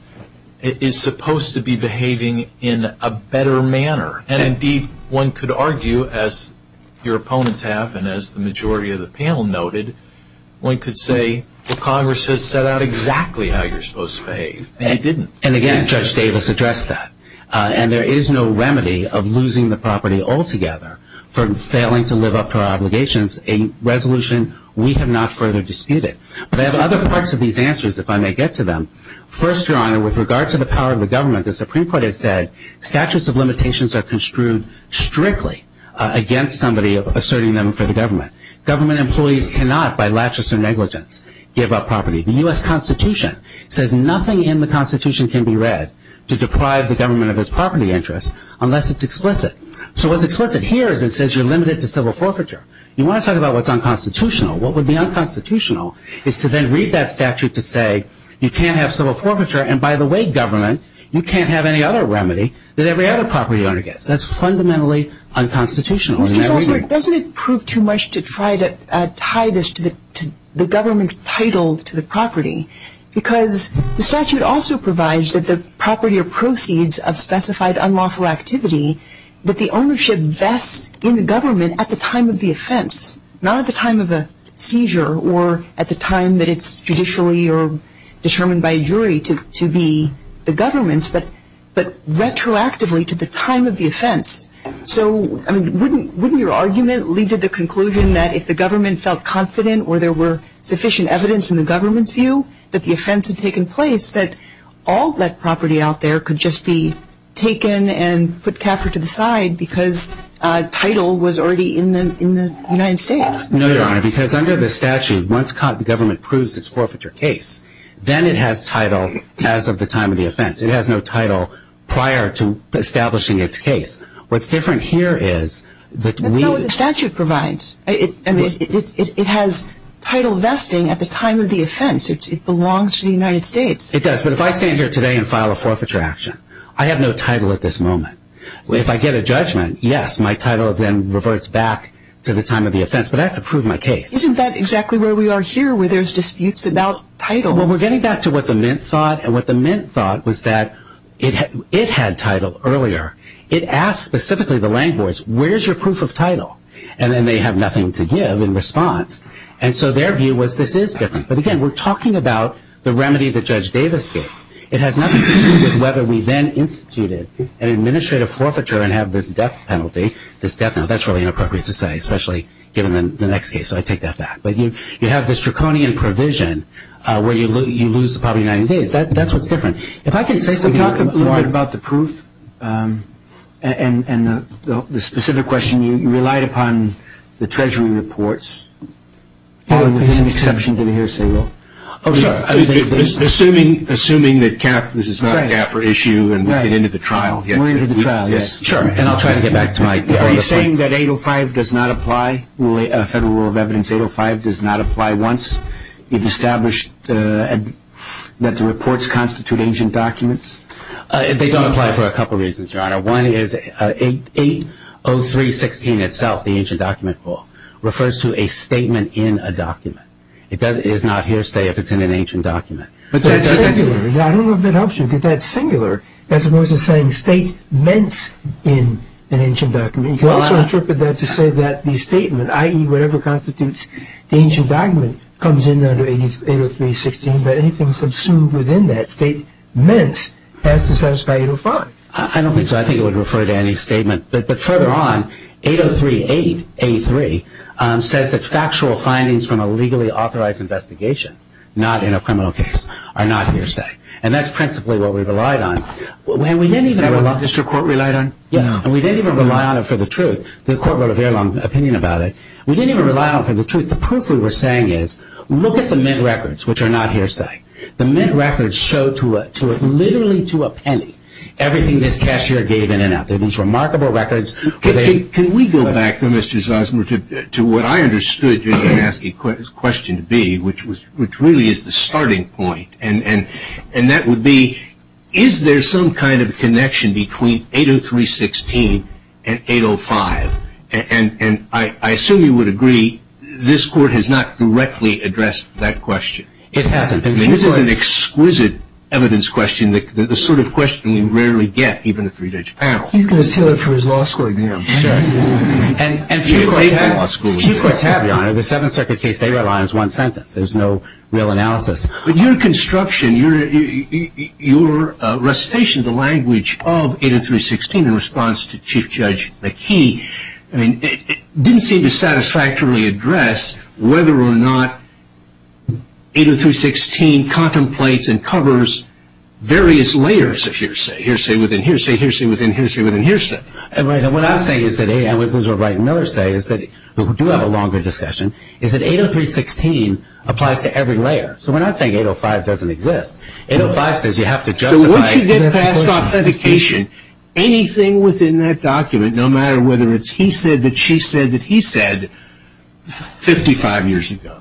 is supposed to be behaving in a better manner, and indeed one could argue, as your opponents have and as the majority of the panel noted, one could say the Congress has set out exactly how you're supposed to behave, and it didn't. And again, Judge Davis addressed that. And there is no remedy of losing the property altogether for failing to live up to our obligations, a resolution we have not further disputed. But I have other parts of these answers, if I may get to them. First, Your Honor, with regard to the power of the government, the Supreme Court has said statutes of limitations are construed strictly against somebody asserting them for the government. Government employees cannot, by laches and negligence, give up property. The U.S. Constitution says nothing in the Constitution can be read to deprive the government of its property interests unless it's explicit. So what's explicit here is it says you're limited to civil forfeiture. You want to talk about what's unconstitutional. What would be unconstitutional is to then read that statute to say you can't have civil forfeiture, and by the way, government, you can't have any other remedy that every other property owner gets. That's fundamentally unconstitutional. Mr. Salzberg, doesn't it prove too much to try to tie this to the government's title to the property? Because the statute also provides that the property or proceeds of specified unlawful activity, that the ownership vests in the government at the time of the offense, not at the time of a seizure or at the time that it's judicially or determined by a jury to be the government's, so wouldn't your argument lead to the conclusion that if the government felt confident or there were sufficient evidence in the government's view that the offense had taken place, that all that property out there could just be taken and put Caffer to the side because title was already in the United States? No, Your Honor, because under the statute, once the government proves its forfeiture case, then it has title as of the time of the offense. It has no title prior to establishing its case. What's different here is that we... That's not what the statute provides. It has title vesting at the time of the offense. It belongs to the United States. It does, but if I stand here today and file a forfeiture action, I have no title at this moment. If I get a judgment, yes, my title then reverts back to the time of the offense, but I have to prove my case. Isn't that exactly where we are here, where there's disputes about title? Well, we're getting back to what the Mint thought, and what the Mint thought was that it had title earlier. It asked specifically the language, where's your proof of title? And then they have nothing to give in response. And so their view was this is different. But again, we're talking about the remedy that Judge Davis gave. It has nothing to do with whether we then instituted an administrative forfeiture and have this death penalty, this death penalty. That's really inappropriate to say, especially given the next case, so I take that back. But you have this draconian provision where you lose the property of the United States. That's what's different. If I could say something more. Can you talk a little bit about the proof and the specific question? You relied upon the Treasury reports. There's an exception to the hearsay rule. Oh, sure. Assuming that this is not a CAFR issue and we get into the trial. We're into the trial, yes. Sure, and I'll try to get back to Mike. Are you saying that 805 does not apply, Federal Rule of Evidence 805 does not apply once if established that the reports constitute ancient documents? They don't apply for a couple reasons, Your Honor. One is 803.16 itself, the ancient document rule, refers to a statement in a document. It is not hearsay if it's in an ancient document. But that's singular. I don't know if that helps you. as opposed to saying statements in an ancient document. You could also interpret that to say that the statement, i.e., whatever constitutes the ancient document, comes in under 803.16, but anything subsumed within that statement has to satisfy 805. I don't think so. I think it would refer to any statement. But further on, 803.8, A3, says that factual findings from a legally authorized investigation, not in a criminal case, are not hearsay. And that's principally what we relied on. Is that what the district court relied on? Yes. And we didn't even rely on it for the truth. The court wrote a very long opinion about it. We didn't even rely on it for the truth. The proof we were saying is, look at the Mint records, which are not hearsay. The Mint records show literally to a penny everything this cashier gave in and out. They're these remarkable records. Can we go back, though, Mr. Zosmer, to what I understood, just to ask a question B, which really is the starting point. And that would be, is there some kind of connection between 803.16 and 805? And I assume you would agree this Court has not directly addressed that question. It hasn't. I mean, this is an exquisite evidence question, the sort of question we rarely get, even a three-digit panel. He's going to steal it for his law school exam. Sure. And few courts have, Your Honor. The Seventh Circuit case they relied on is one sentence. There's no real analysis. But your construction, your recitation of the language of 803.16 in response to Chief Judge McKee didn't seem to satisfactorily address whether or not 803.16 contemplates and covers various layers of hearsay, hearsay within hearsay, hearsay within hearsay within hearsay. Right. And what I'm saying is that 803.16 applies to every layer. So we're not saying 805 doesn't exist. 805 says you have to justify. So once you get past authentication, anything within that document, no matter whether it's he said that she said that he said 55 years ago,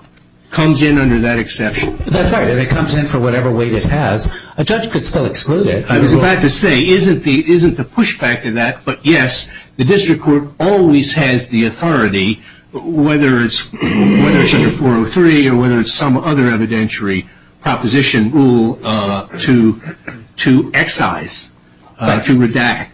comes in under that exception. That's right. And it comes in for whatever weight it has. A judge could still exclude it. I was about to say, isn't the pushback to that? But, yes, the district court always has the authority, whether it's under 403 or whether it's some other evidentiary proposition rule to excise, to redact.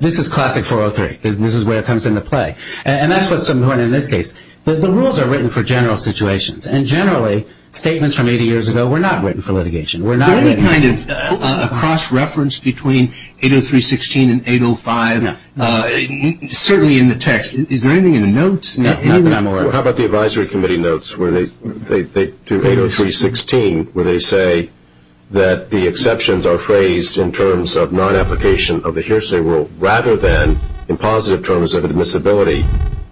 This is classic 403. This is where it comes into play. And that's what's important in this case. The rules are written for general situations. And, generally, statements from 80 years ago were not written for litigation. Were not written for litigation. Is there any kind of cross-reference between 803.16 and 805? No. Certainly in the text. Is there anything in the notes? No, not that I'm aware of. How about the advisory committee notes where they do 803.16 where they say that the exceptions are phrased in terms of non-application of the hearsay rule rather than in positive terms of admissibility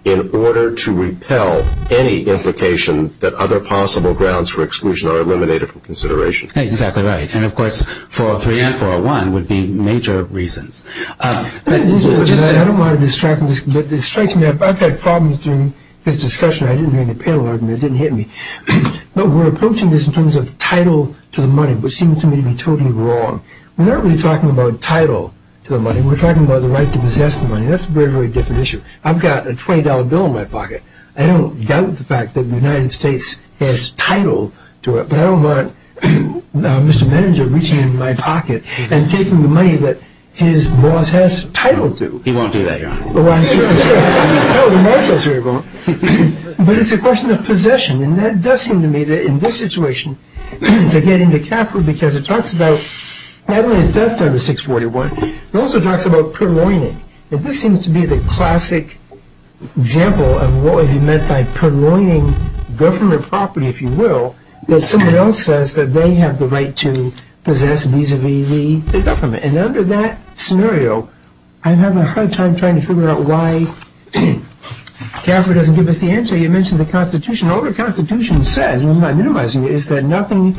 in order to repel any implication that other possible grounds for exclusion are eliminated from consideration. Exactly right. And, of course, 403 and 401 would be major reasons. I don't want to distract you, but it strikes me. I've had problems during this discussion. I didn't hear any panel argument. It didn't hit me. But we're approaching this in terms of title to the money, which seems to me to be totally wrong. We're not really talking about title to the money. We're talking about the right to possess the money. That's a very, very different issue. I've got a $20 bill in my pocket. I don't doubt the fact that the United States has title to it, but I don't want Mr. Meninger reaching into my pocket and taking the money that his boss has title to. He won't do that, Your Honor. Oh, I'm sure, I'm sure. Oh, the marshal's here. But it's a question of possession, and that does seem to me that in this situation to get into CAFRA because it talks about not only theft under 641, it also talks about purloining, and this seems to be the classic example of what would be meant by purloining government property, if you will, that someone else says that they have the right to possess vis-a-vis the government. And under that scenario, I'm having a hard time trying to figure out why CAFRA doesn't give us the answer. You mentioned the Constitution. All the Constitution says, and I'm not minimizing it, is that nothing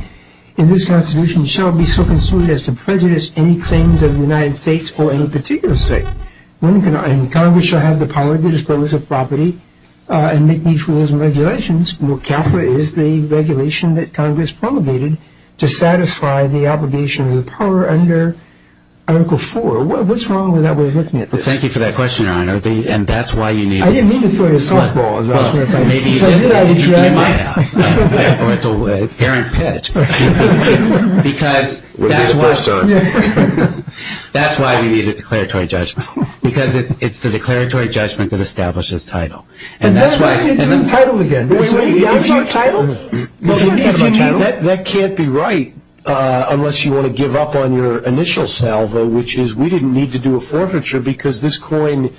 in this Constitution shall be so construed as to prejudice any claims of the United States or any particular state. Congress shall have the power to dispose of property and make these rules and regulations. CAFRA is the regulation that Congress promulgated to satisfy the obligation of the power under Article 4. What's wrong with that way of looking at this? Thank you for that question, Your Honor, and that's why you need it. I didn't mean to throw you a softball, as a matter of fact. Maybe you did. You might have. Or it's an errant pitch. Because that's why we need a declaratory judgment because it's the declaratory judgment that establishes title. And that's why I didn't do title again. Wait, wait. That's not title? That can't be right unless you want to give up on your initial salvo, which is we didn't need to do a forfeiture because this coin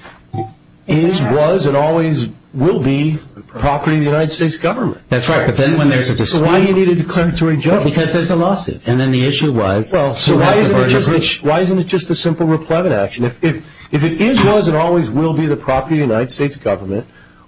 is, was, and always will be property of the United States government. That's right. But then when there's a dispute. So why do you need a declaratory judgment? Because there's a lawsuit. And then the issue was. So why isn't it just a simple replevant action? If it is, was, and always will be the property of the United States government,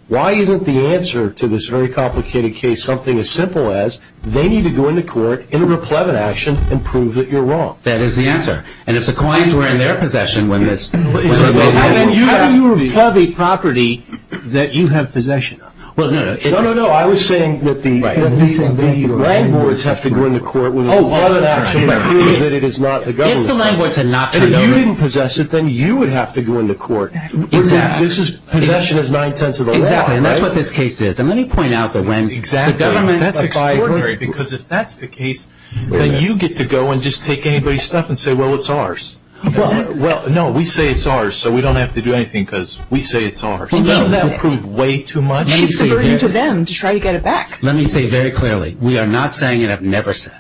why isn't the answer to this very complicated case something as simple as, they need to go into court in a replevant action and prove that you're wrong? That is the answer. And if the coins were in their possession when this... How do you repleve property that you have possession of? No, no, no. I was saying that the landlords have to go into court with a replevant action and prove that it is not the government's property. And if you didn't possess it, then you would have to go into court. Exactly. Possession is nine-tenths of the law. Exactly. And that's what this case is. And let me point out that when the government... Exactly. That's extraordinary because if that's the case, then you get to go and just take anybody's stuff and say, well, it's ours. Well, no, we say it's ours, so we don't have to do anything because we say it's ours. Well, doesn't that prove way too much? It's a burden to them to try to get it back. Let me say very clearly, we are not saying, and I've never said,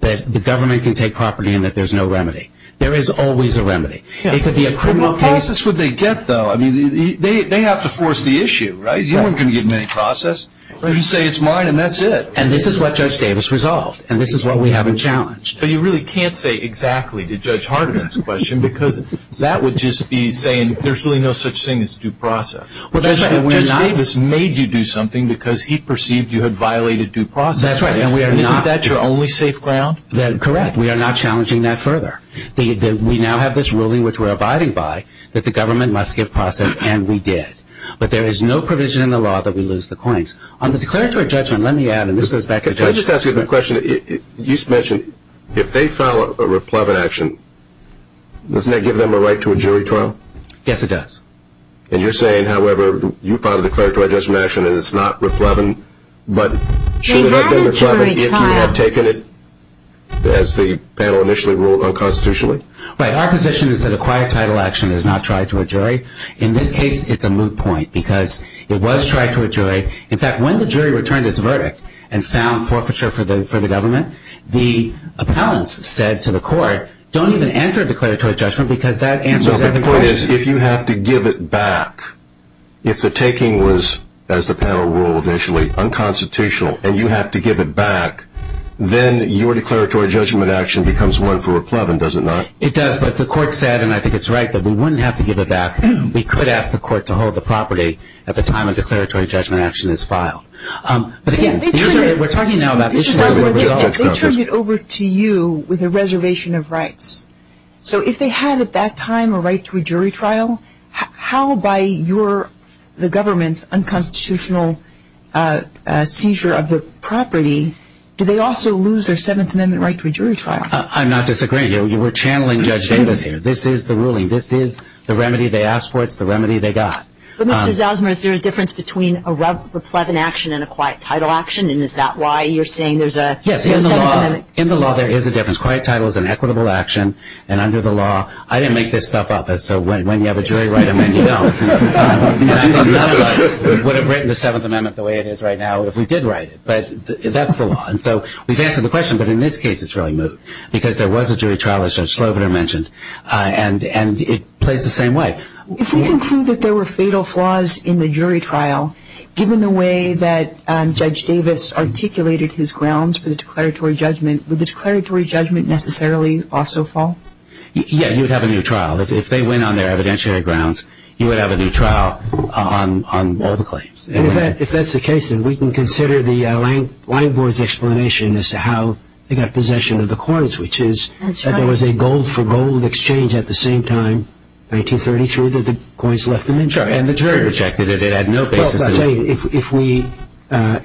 that the government can take property and that there's no remedy. There is always a remedy. It could be a criminal case. Well, how else would they get, though? I mean, they have to force the issue, right? You weren't going to give them any process. You just say it's mine and that's it. And this is what Judge Davis resolved, and this is what we haven't challenged. But you really can't say exactly to Judge Hardiman's question because that would just be saying there's really no such thing as due process. Judge Davis made you do something because he perceived you had violated due process. That's right, and we are not. Is that your only safe ground? Correct. We are not challenging that further. We now have this ruling, which we're abiding by, that the government must give process, and we did. But there is no provision in the law that we lose the coins. On the declaratory judgment, let me add, and this goes back to Judge Davis. Can I just ask you the question? You mentioned if they file a replevin action, doesn't that give them a right to a jury trial? Yes, it does. And you're saying, however, you filed a declaratory judgment action and it's not replevin, but should it have been replevin if you had taken it as the panel initially ruled unconstitutionally? Right. Our position is that a quiet title action is not tried to a jury. In this case, it's a moot point because it was tried to a jury. In fact, when the jury returned its verdict and found forfeiture for the government, the appellants said to the court, don't even enter a declaratory judgment because that answers every question. If you have to give it back, if the taking was, as the panel ruled initially, unconstitutional, and you have to give it back, then your declaratory judgment action becomes one for replevin, does it not? It does, but the court said, and I think it's right, that we wouldn't have to give it back. We could ask the court to hold the property at the time a declaratory judgment action is filed. But, again, we're talking now about this. So if they had at that time a right to a jury trial, how, by the government's unconstitutional seizure of the property, do they also lose their Seventh Amendment right to a jury trial? I'm not disagreeing. We're channeling Judge Davis here. This is the ruling. This is the remedy they asked for. It's the remedy they got. But, Mr. Zalzman, is there a difference between a replevin action and a quiet title action, and is that why you're saying there's a Seventh Amendment? Yes, in the law there is a difference. A quiet title is an equitable action, and under the law, I didn't make this stuff up, so when you have a jury write them in, you don't. And I think none of us would have written the Seventh Amendment the way it is right now if we did write it. But that's the law. And so we've answered the question, but in this case it's really moot, because there was a jury trial, as Judge Slobiner mentioned, and it plays the same way. If we conclude that there were fatal flaws in the jury trial, given the way that Judge Davis articulated his grounds for the declaratory judgment, would the declaratory judgment necessarily also fall? Yeah, you'd have a new trial. If they win on their evidentiary grounds, you would have a new trial on all the claims. In fact, if that's the case, then we can consider the Lang Board's explanation as to how they got possession of the coins, which is that there was a gold-for-gold exchange at the same time, 1933, that the coins left them in. Sure, and the jury rejected it. Well,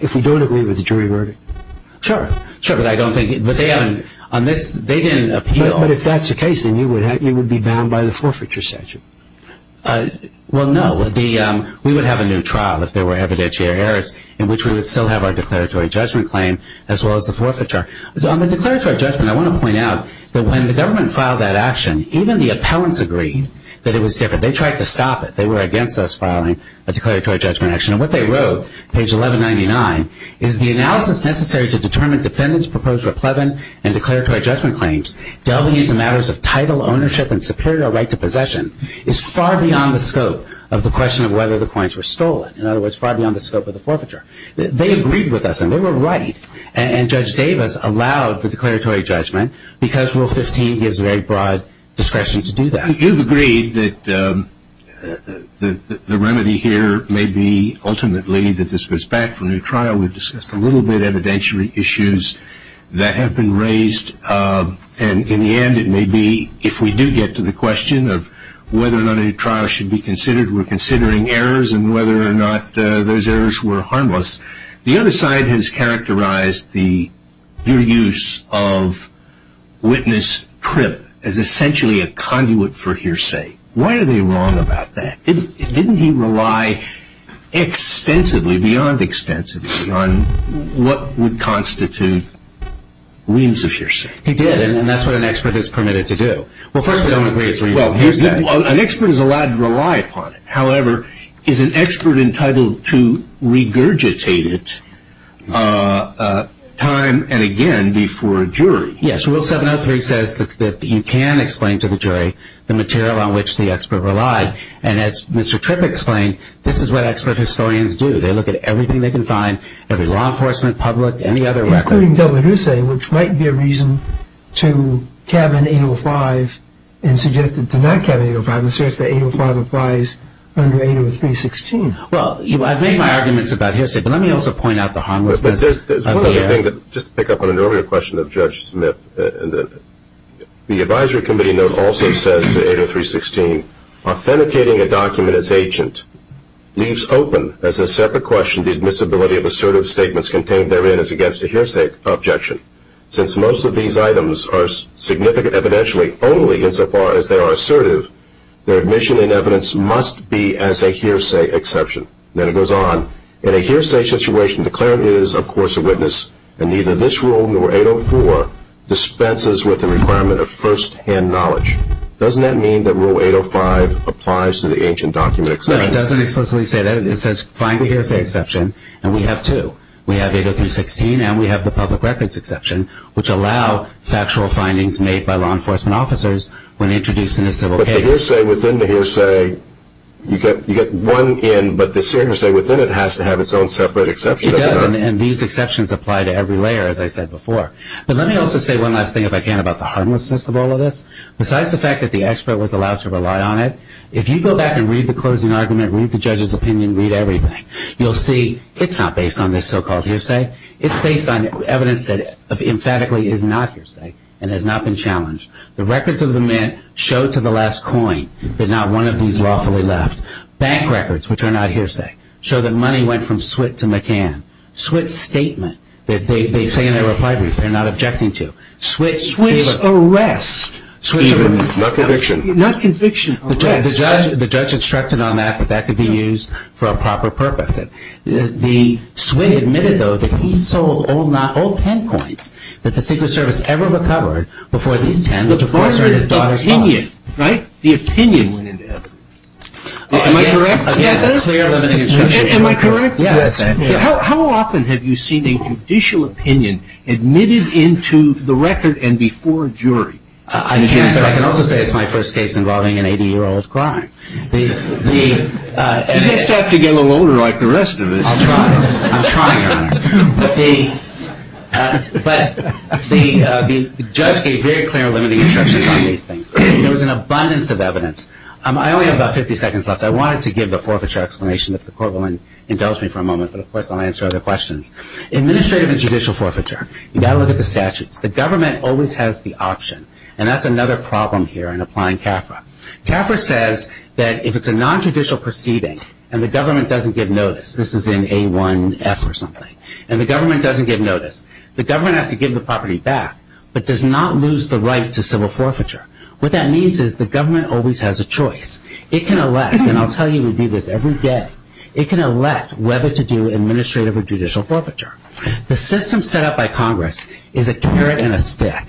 if we don't agree with the jury verdict, sure. Sure, but I don't think they haven't. They didn't appeal. But if that's the case, then you would be bound by the forfeiture statute. Well, no. We would have a new trial if there were evidentiary errors, in which we would still have our declaratory judgment claim as well as the forfeiture. On the declaratory judgment, I want to point out that when the government filed that action, even the appellants agreed that it was different. They tried to stop it. They were against us filing a declaratory judgment action. And what they wrote, page 1199, is the analysis necessary to determine defendants' proposed replevant and declaratory judgment claims delving into matters of title, ownership, and superior right to possession is far beyond the scope of the question of whether the coins were stolen. In other words, far beyond the scope of the forfeiture. They agreed with us, and they were right. And Judge Davis allowed the declaratory judgment because Rule 15 gives very broad discretion to do that. You've agreed that the remedy here may be ultimately that this goes back for a new trial. We've discussed a little bit evidentiary issues that have been raised. And in the end, it may be, if we do get to the question of whether or not a new trial should be considered, we're considering errors, and whether or not those errors were harmless. The other side has characterized your use of witness trip as essentially a conduit for hearsay. Why are they wrong about that? Didn't he rely extensively, beyond extensively, on what would constitute reams of hearsay? He did, and that's what an expert is permitted to do. Well, first of all, an expert is allowed to rely upon it. However, is an expert entitled to regurgitate it time and again before a jury? Yes. Rule 703 says that you can explain to the jury the material on which the expert relied. And as Mr. Tripp explained, this is what expert historians do. They look at everything they can find, every law enforcement, public, any other record. Including double hearsay, which might be a reason to cabin 805 and suggest that to not cabin 805, asserts that 805 applies under 803.16. Well, I've made my arguments about hearsay, but let me also point out the harmlessness of the error. Just to pick up on an earlier question of Judge Smith, the advisory committee note also says to 803.16, authenticating a document as agent leaves open, as a separate question, the admissibility of assertive statements contained therein as against a hearsay objection. Since most of these items are significant evidentially only insofar as they are assertive, their admission and evidence must be as a hearsay exception. Then it goes on. In a hearsay situation, the cleric is, of course, a witness, and neither this rule nor 804 dispenses with the requirement of first-hand knowledge. Doesn't that mean that Rule 805 applies to the ancient document exception? No, it doesn't explicitly say that. It says find the hearsay exception, and we have two. We have 803.16 and we have the public records exception, which allow factual findings made by law enforcement officers when introduced in a civil case. But the hearsay within the hearsay, you get one in, but the hearsay within it has to have its own separate exception, doesn't it? It does, and these exceptions apply to every layer, as I said before. But let me also say one last thing, if I can, about the harmlessness of all of this. Besides the fact that the expert was allowed to rely on it, if you go back and read the closing argument, read the judge's opinion, read everything, you'll see it's not based on this so-called hearsay. It's based on evidence that emphatically is not hearsay and has not been challenged. The records of the mint show to the last coin that not one of these lawfully left. Bank records, which are not hearsay, show that money went from Switt to McCann. Switt's statement that they say in their reply brief, they're not objecting to. Switt's arrest. Not conviction. Not conviction. The judge instructed on that that that could be used for a proper purpose. The Switt admitted, though, that he sold all 10 coins that the Secret Service ever recovered before these 10, which, of course, are in his daughter's pocket. The opinion, right? The opinion went into it. Am I correct? Again, a clear, limiting instruction. Am I correct? Yes. How often have you seen a judicial opinion admitted into the record and before a jury? I can also say it's my first case involving an 80-year-old crime. You just have to get a little older like the rest of us. I'll try. I'm trying, Your Honor. But the judge gave very clear, limiting instructions on these things. There was an abundance of evidence. I only have about 50 seconds left. I wanted to give the forfeiture explanation if the court will indulge me for a moment, but, of course, I'll answer other questions. Administrative and judicial forfeiture. You've got to look at the statutes. The government always has the option, and that's another problem here in applying CAFRA. CAFRA says that if it's a nontraditional proceeding and the government doesn't give notice, this is in A1F or something, and the government doesn't give notice, the government has to give the property back but does not lose the right to civil forfeiture. What that means is the government always has a choice. It can elect, and I'll tell you we do this every day, it can elect whether to do administrative or judicial forfeiture. The system set up by Congress is a carrot and a stick.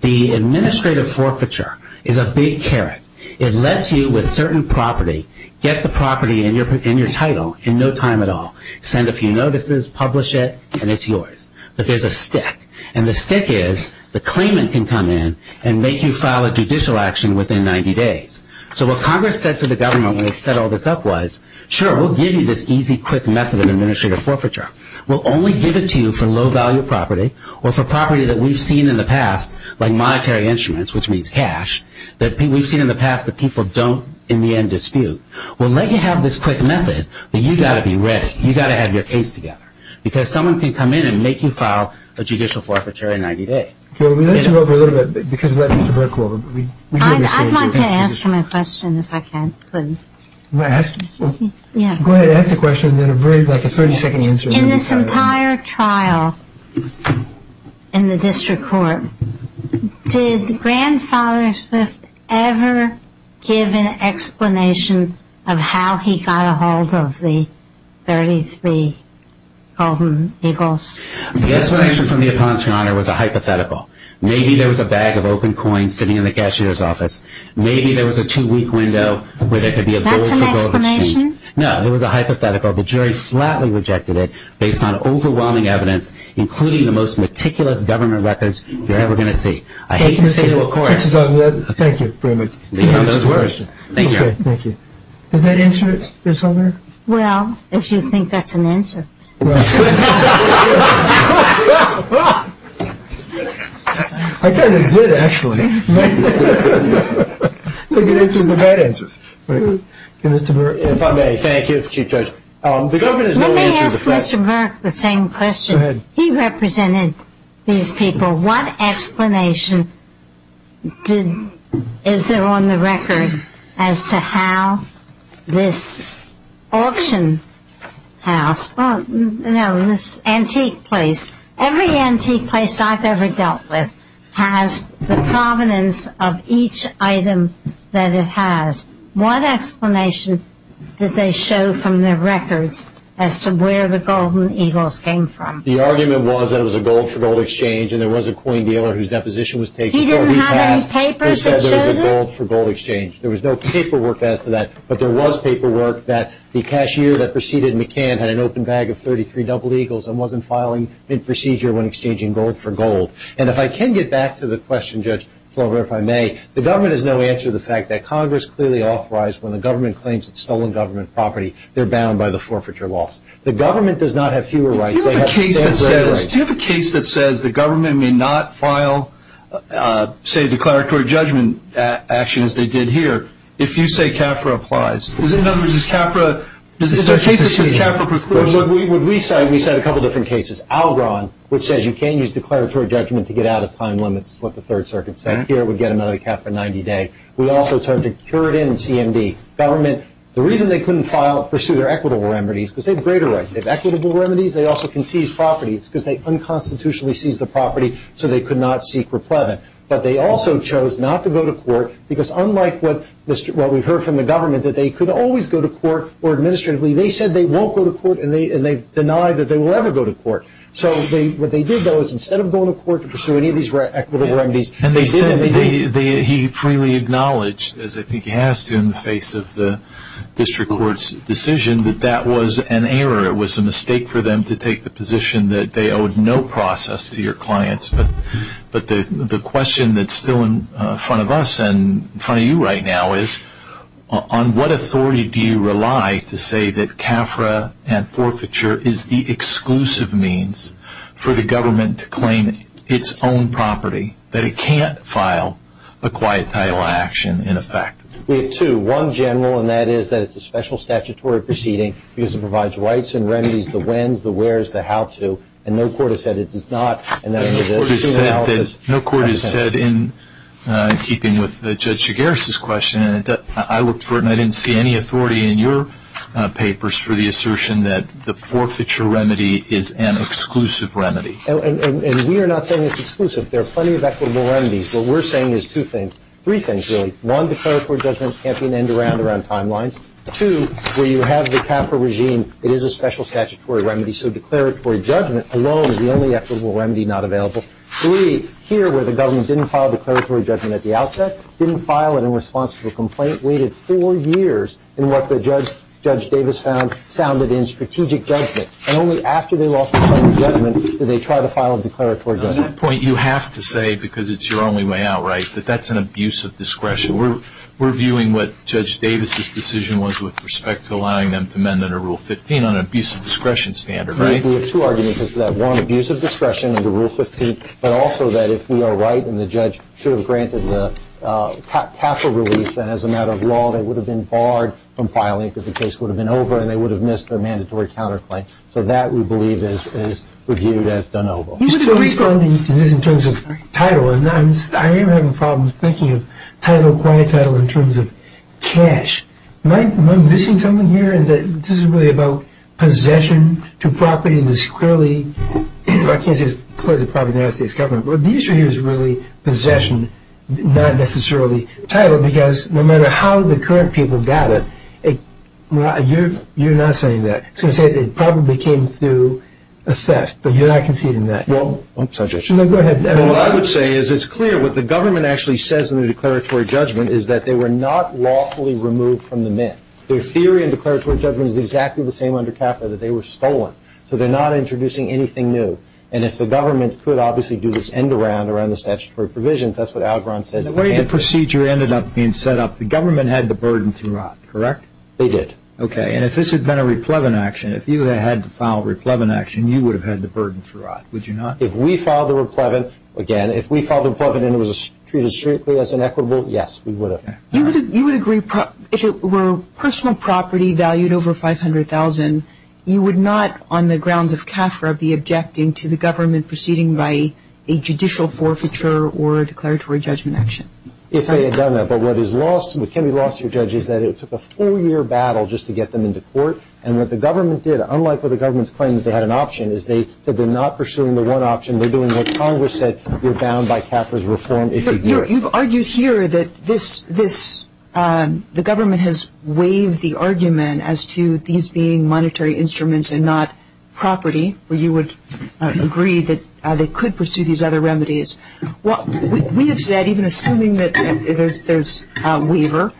The administrative forfeiture is a big carrot. It lets you, with certain property, get the property in your title in no time at all, send a few notices, publish it, and it's yours. But there's a stick, and the stick is the claimant can come in and make you file a judicial action within 90 days. So what Congress said to the government when it set all this up was, sure, we'll give you this easy, quick method of administrative forfeiture. We'll only give it to you for low-value property or for property that we've seen in the past, like monetary instruments, which means cash, that we've seen in the past that people don't, in the end, dispute. We'll let you have this quick method, but you've got to be ready. You've got to have your case together, because someone can come in and make you file a judicial forfeiture in 90 days. Okay. We'll let you go over a little bit because we'll let Mr. Burke go over. I'd like to ask him a question if I can, please. You want to ask me? Yeah. Go ahead. Ask the question, and then I'll bring, like, a 30-second answer. In this entire trial in the district court, did Grandfather Swift ever give an explanation of how he got a hold of the 33 Golden Eagles? The explanation from the Appellant's Honor was a hypothetical. Maybe there was a bag of open coins sitting in the cashier's office. Maybe there was a two-week window where there could be a gold for gold exchange. That's an explanation? No. It was a hypothetical. The jury flatly rejected it based on overwhelming evidence, including the most meticulous government records you're ever going to see. I hate to say to a court. Thank you very much. Leave it on those words. Thank you. Did that answer your question? Well, if you think that's an answer. I kind of did, actually. I think it answers the bad answers. If I may, thank you, Chief Judge. Let me ask Mr. Burke the same question. Go ahead. He represented these people. What explanation is there on the record as to how this auction house, well, no, this antique place, every antique place I've ever dealt with has the provenance of each item that it has. What explanation did they show from their records as to where the gold and eagles came from? The argument was that it was a gold for gold exchange, and there was a coin dealer whose deposition was taken. He didn't have any papers that showed it? He said there was a gold for gold exchange. There was no paperwork as to that, but there was paperwork that the cashier that preceded McCann had an open bag of 33 double eagles and wasn't filing mid-procedure when exchanging gold for gold. And if I can get back to the question, Judge Flover, if I may, the government has no answer to the fact that Congress clearly authorized when the government claims it's stolen government property, they're bound by the forfeiture laws. The government does not have fewer rights. Do you have a case that says the government may not file, say, declaratory judgment actions they did here if you say CAFRA applies? Is there a case that says CAFRA precludes it? What we cite, we cite a couple of different cases. Algon, which says you can't use declaratory judgment to get out of time limits, is what the Third Circuit said. Here, we get another CAFRA 90-day. We also tried to cure it in CMD. Government, the reason they couldn't pursue their equitable remedies, because they have greater rights. They have equitable remedies. They also can seize property. It's because they unconstitutionally seized the property, so they could not seek replevant. But they also chose not to go to court because unlike what we've heard from the government, that they could always go to court or administratively. They said they won't go to court, and they've denied that they will ever go to court. So what they did, though, is instead of going to court to pursue any of these equitable remedies, they did what they did. And he freely acknowledged, as I think he has to in the face of the district court's decision, that that was an error. It was a mistake for them to take the position that they owed no process to your clients. But the question that's still in front of us and in front of you right now is, on what authority do you rely to say that CAFRA and forfeiture is the exclusive means for the government to claim its own property, that it can't file a quiet title action in effect? We have two. One general, and that is that it's a special statutory proceeding because it provides rights and remedies, the whens, the wheres, the how to. And no court has said it does not. No court has said that, in keeping with Judge Shigaris' question, I looked for it and I didn't see any authority in your papers for the assertion that the forfeiture remedy is an exclusive remedy. And we are not saying it's exclusive. There are plenty of equitable remedies. What we're saying is two things, three things really. One, declaratory judgment can't be an end around around timelines. Two, where you have the CAFRA regime, it is a special statutory remedy, so declaratory judgment alone is the only equitable remedy not available. Three, here where the government didn't file declaratory judgment at the outset, didn't file it in response to a complaint, waited four years in what Judge Davis found sounded in strategic judgment, and only after they lost the final judgment did they try to file a declaratory judgment. On that point, you have to say, because it's your only way out, right, that that's an abuse of discretion. We're viewing what Judge Davis' decision was with respect to allowing them to amend under Rule 15 on an abuse of discretion standard, right? We have two arguments to that. One, abuse of discretion under Rule 15, but also that if we are right and the judge should have granted the CAFRA relief, then as a matter of law, they would have been barred from filing because the case would have been over and they would have missed their mandatory counterclaim. So that we believe is reviewed as de novo. He's still responding to this in terms of title, and I am having problems thinking of title, quiet title in terms of cash. Am I missing something here in that this is really about possession to property and it's clearly, I can't say it's clearly the property of the United States government, but the issue here is really possession, not necessarily title, because no matter how the current people got it, you're not saying that. You're saying it probably came through a theft, but you're not conceding that. Well, I'm sorry, Judge. No, go ahead. What I would say is it's clear what the government actually says in the declaratory judgment is that they were not lawfully removed from the mint. Their theory in declaratory judgment is exactly the same under CAFRA, that they were stolen. So they're not introducing anything new, and if the government could obviously do this end-around around the statutory provisions, that's what Algron says. The way the procedure ended up being set up, the government had the burden throughout, correct? They did. Okay, and if this had been a replevant action, if you had to file a replevant action, you would have had the burden throughout, would you not? If we filed a replevant, again, if we filed a replevant and it was treated strictly as inequitable, yes, we would have. You would agree if it were personal property valued over $500,000, you would not, on the grounds of CAFRA, be objecting to the government proceeding by a judicial forfeiture or a declaratory judgment action? If they had done that. But what can be lost to a judge is that it took a four-year battle just to get them into court, and what the government did, unlike what the government's claim that they had an option, is they said they're not pursuing the one option. They're doing what Congress said, you're bound by CAFRA's reform if you do it. You've argued here that the government has waived the argument as to these being monetary instruments and not property, where you would agree that they could pursue these other remedies. We have said, even assuming that there's a waiver,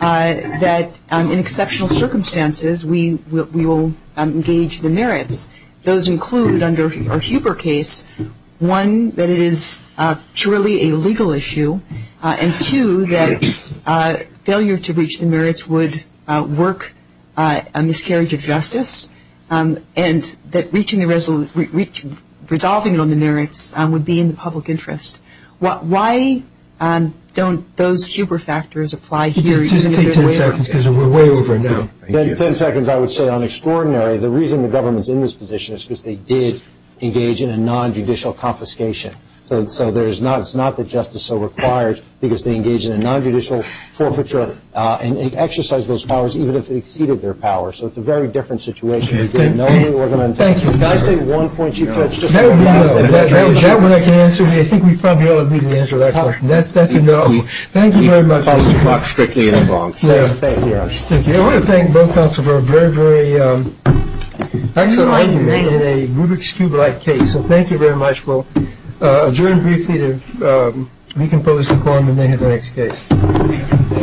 that in exceptional circumstances we will engage the merits. Those include, under our Huber case, one, that it is truly a legal issue, and two, that failure to reach the merits would work a miscarriage of justice, and that resolving it on the merits would be in the public interest. Why don't those Huber factors apply here? Just take ten seconds because we're way over now. Ten seconds, I would say, on extraordinary. The reason the government's in this position is because they did engage in a nonjudicial confiscation. So it's not that justice so requires, because they engaged in a nonjudicial forfeiture and exercised those powers even if it exceeded their power. So it's a very different situation. Thank you. Can I say one point you've touched? Is that what I can answer? I think we probably ought to be able to answer that question. That's a no. Thank you very much. He was not strictly involved. Thank you. I want to thank both counsel for a very, very excellent argument in a Rubik's Cube-like case. So thank you very much. We'll adjourn briefly to recompose the quorum and then have the next case.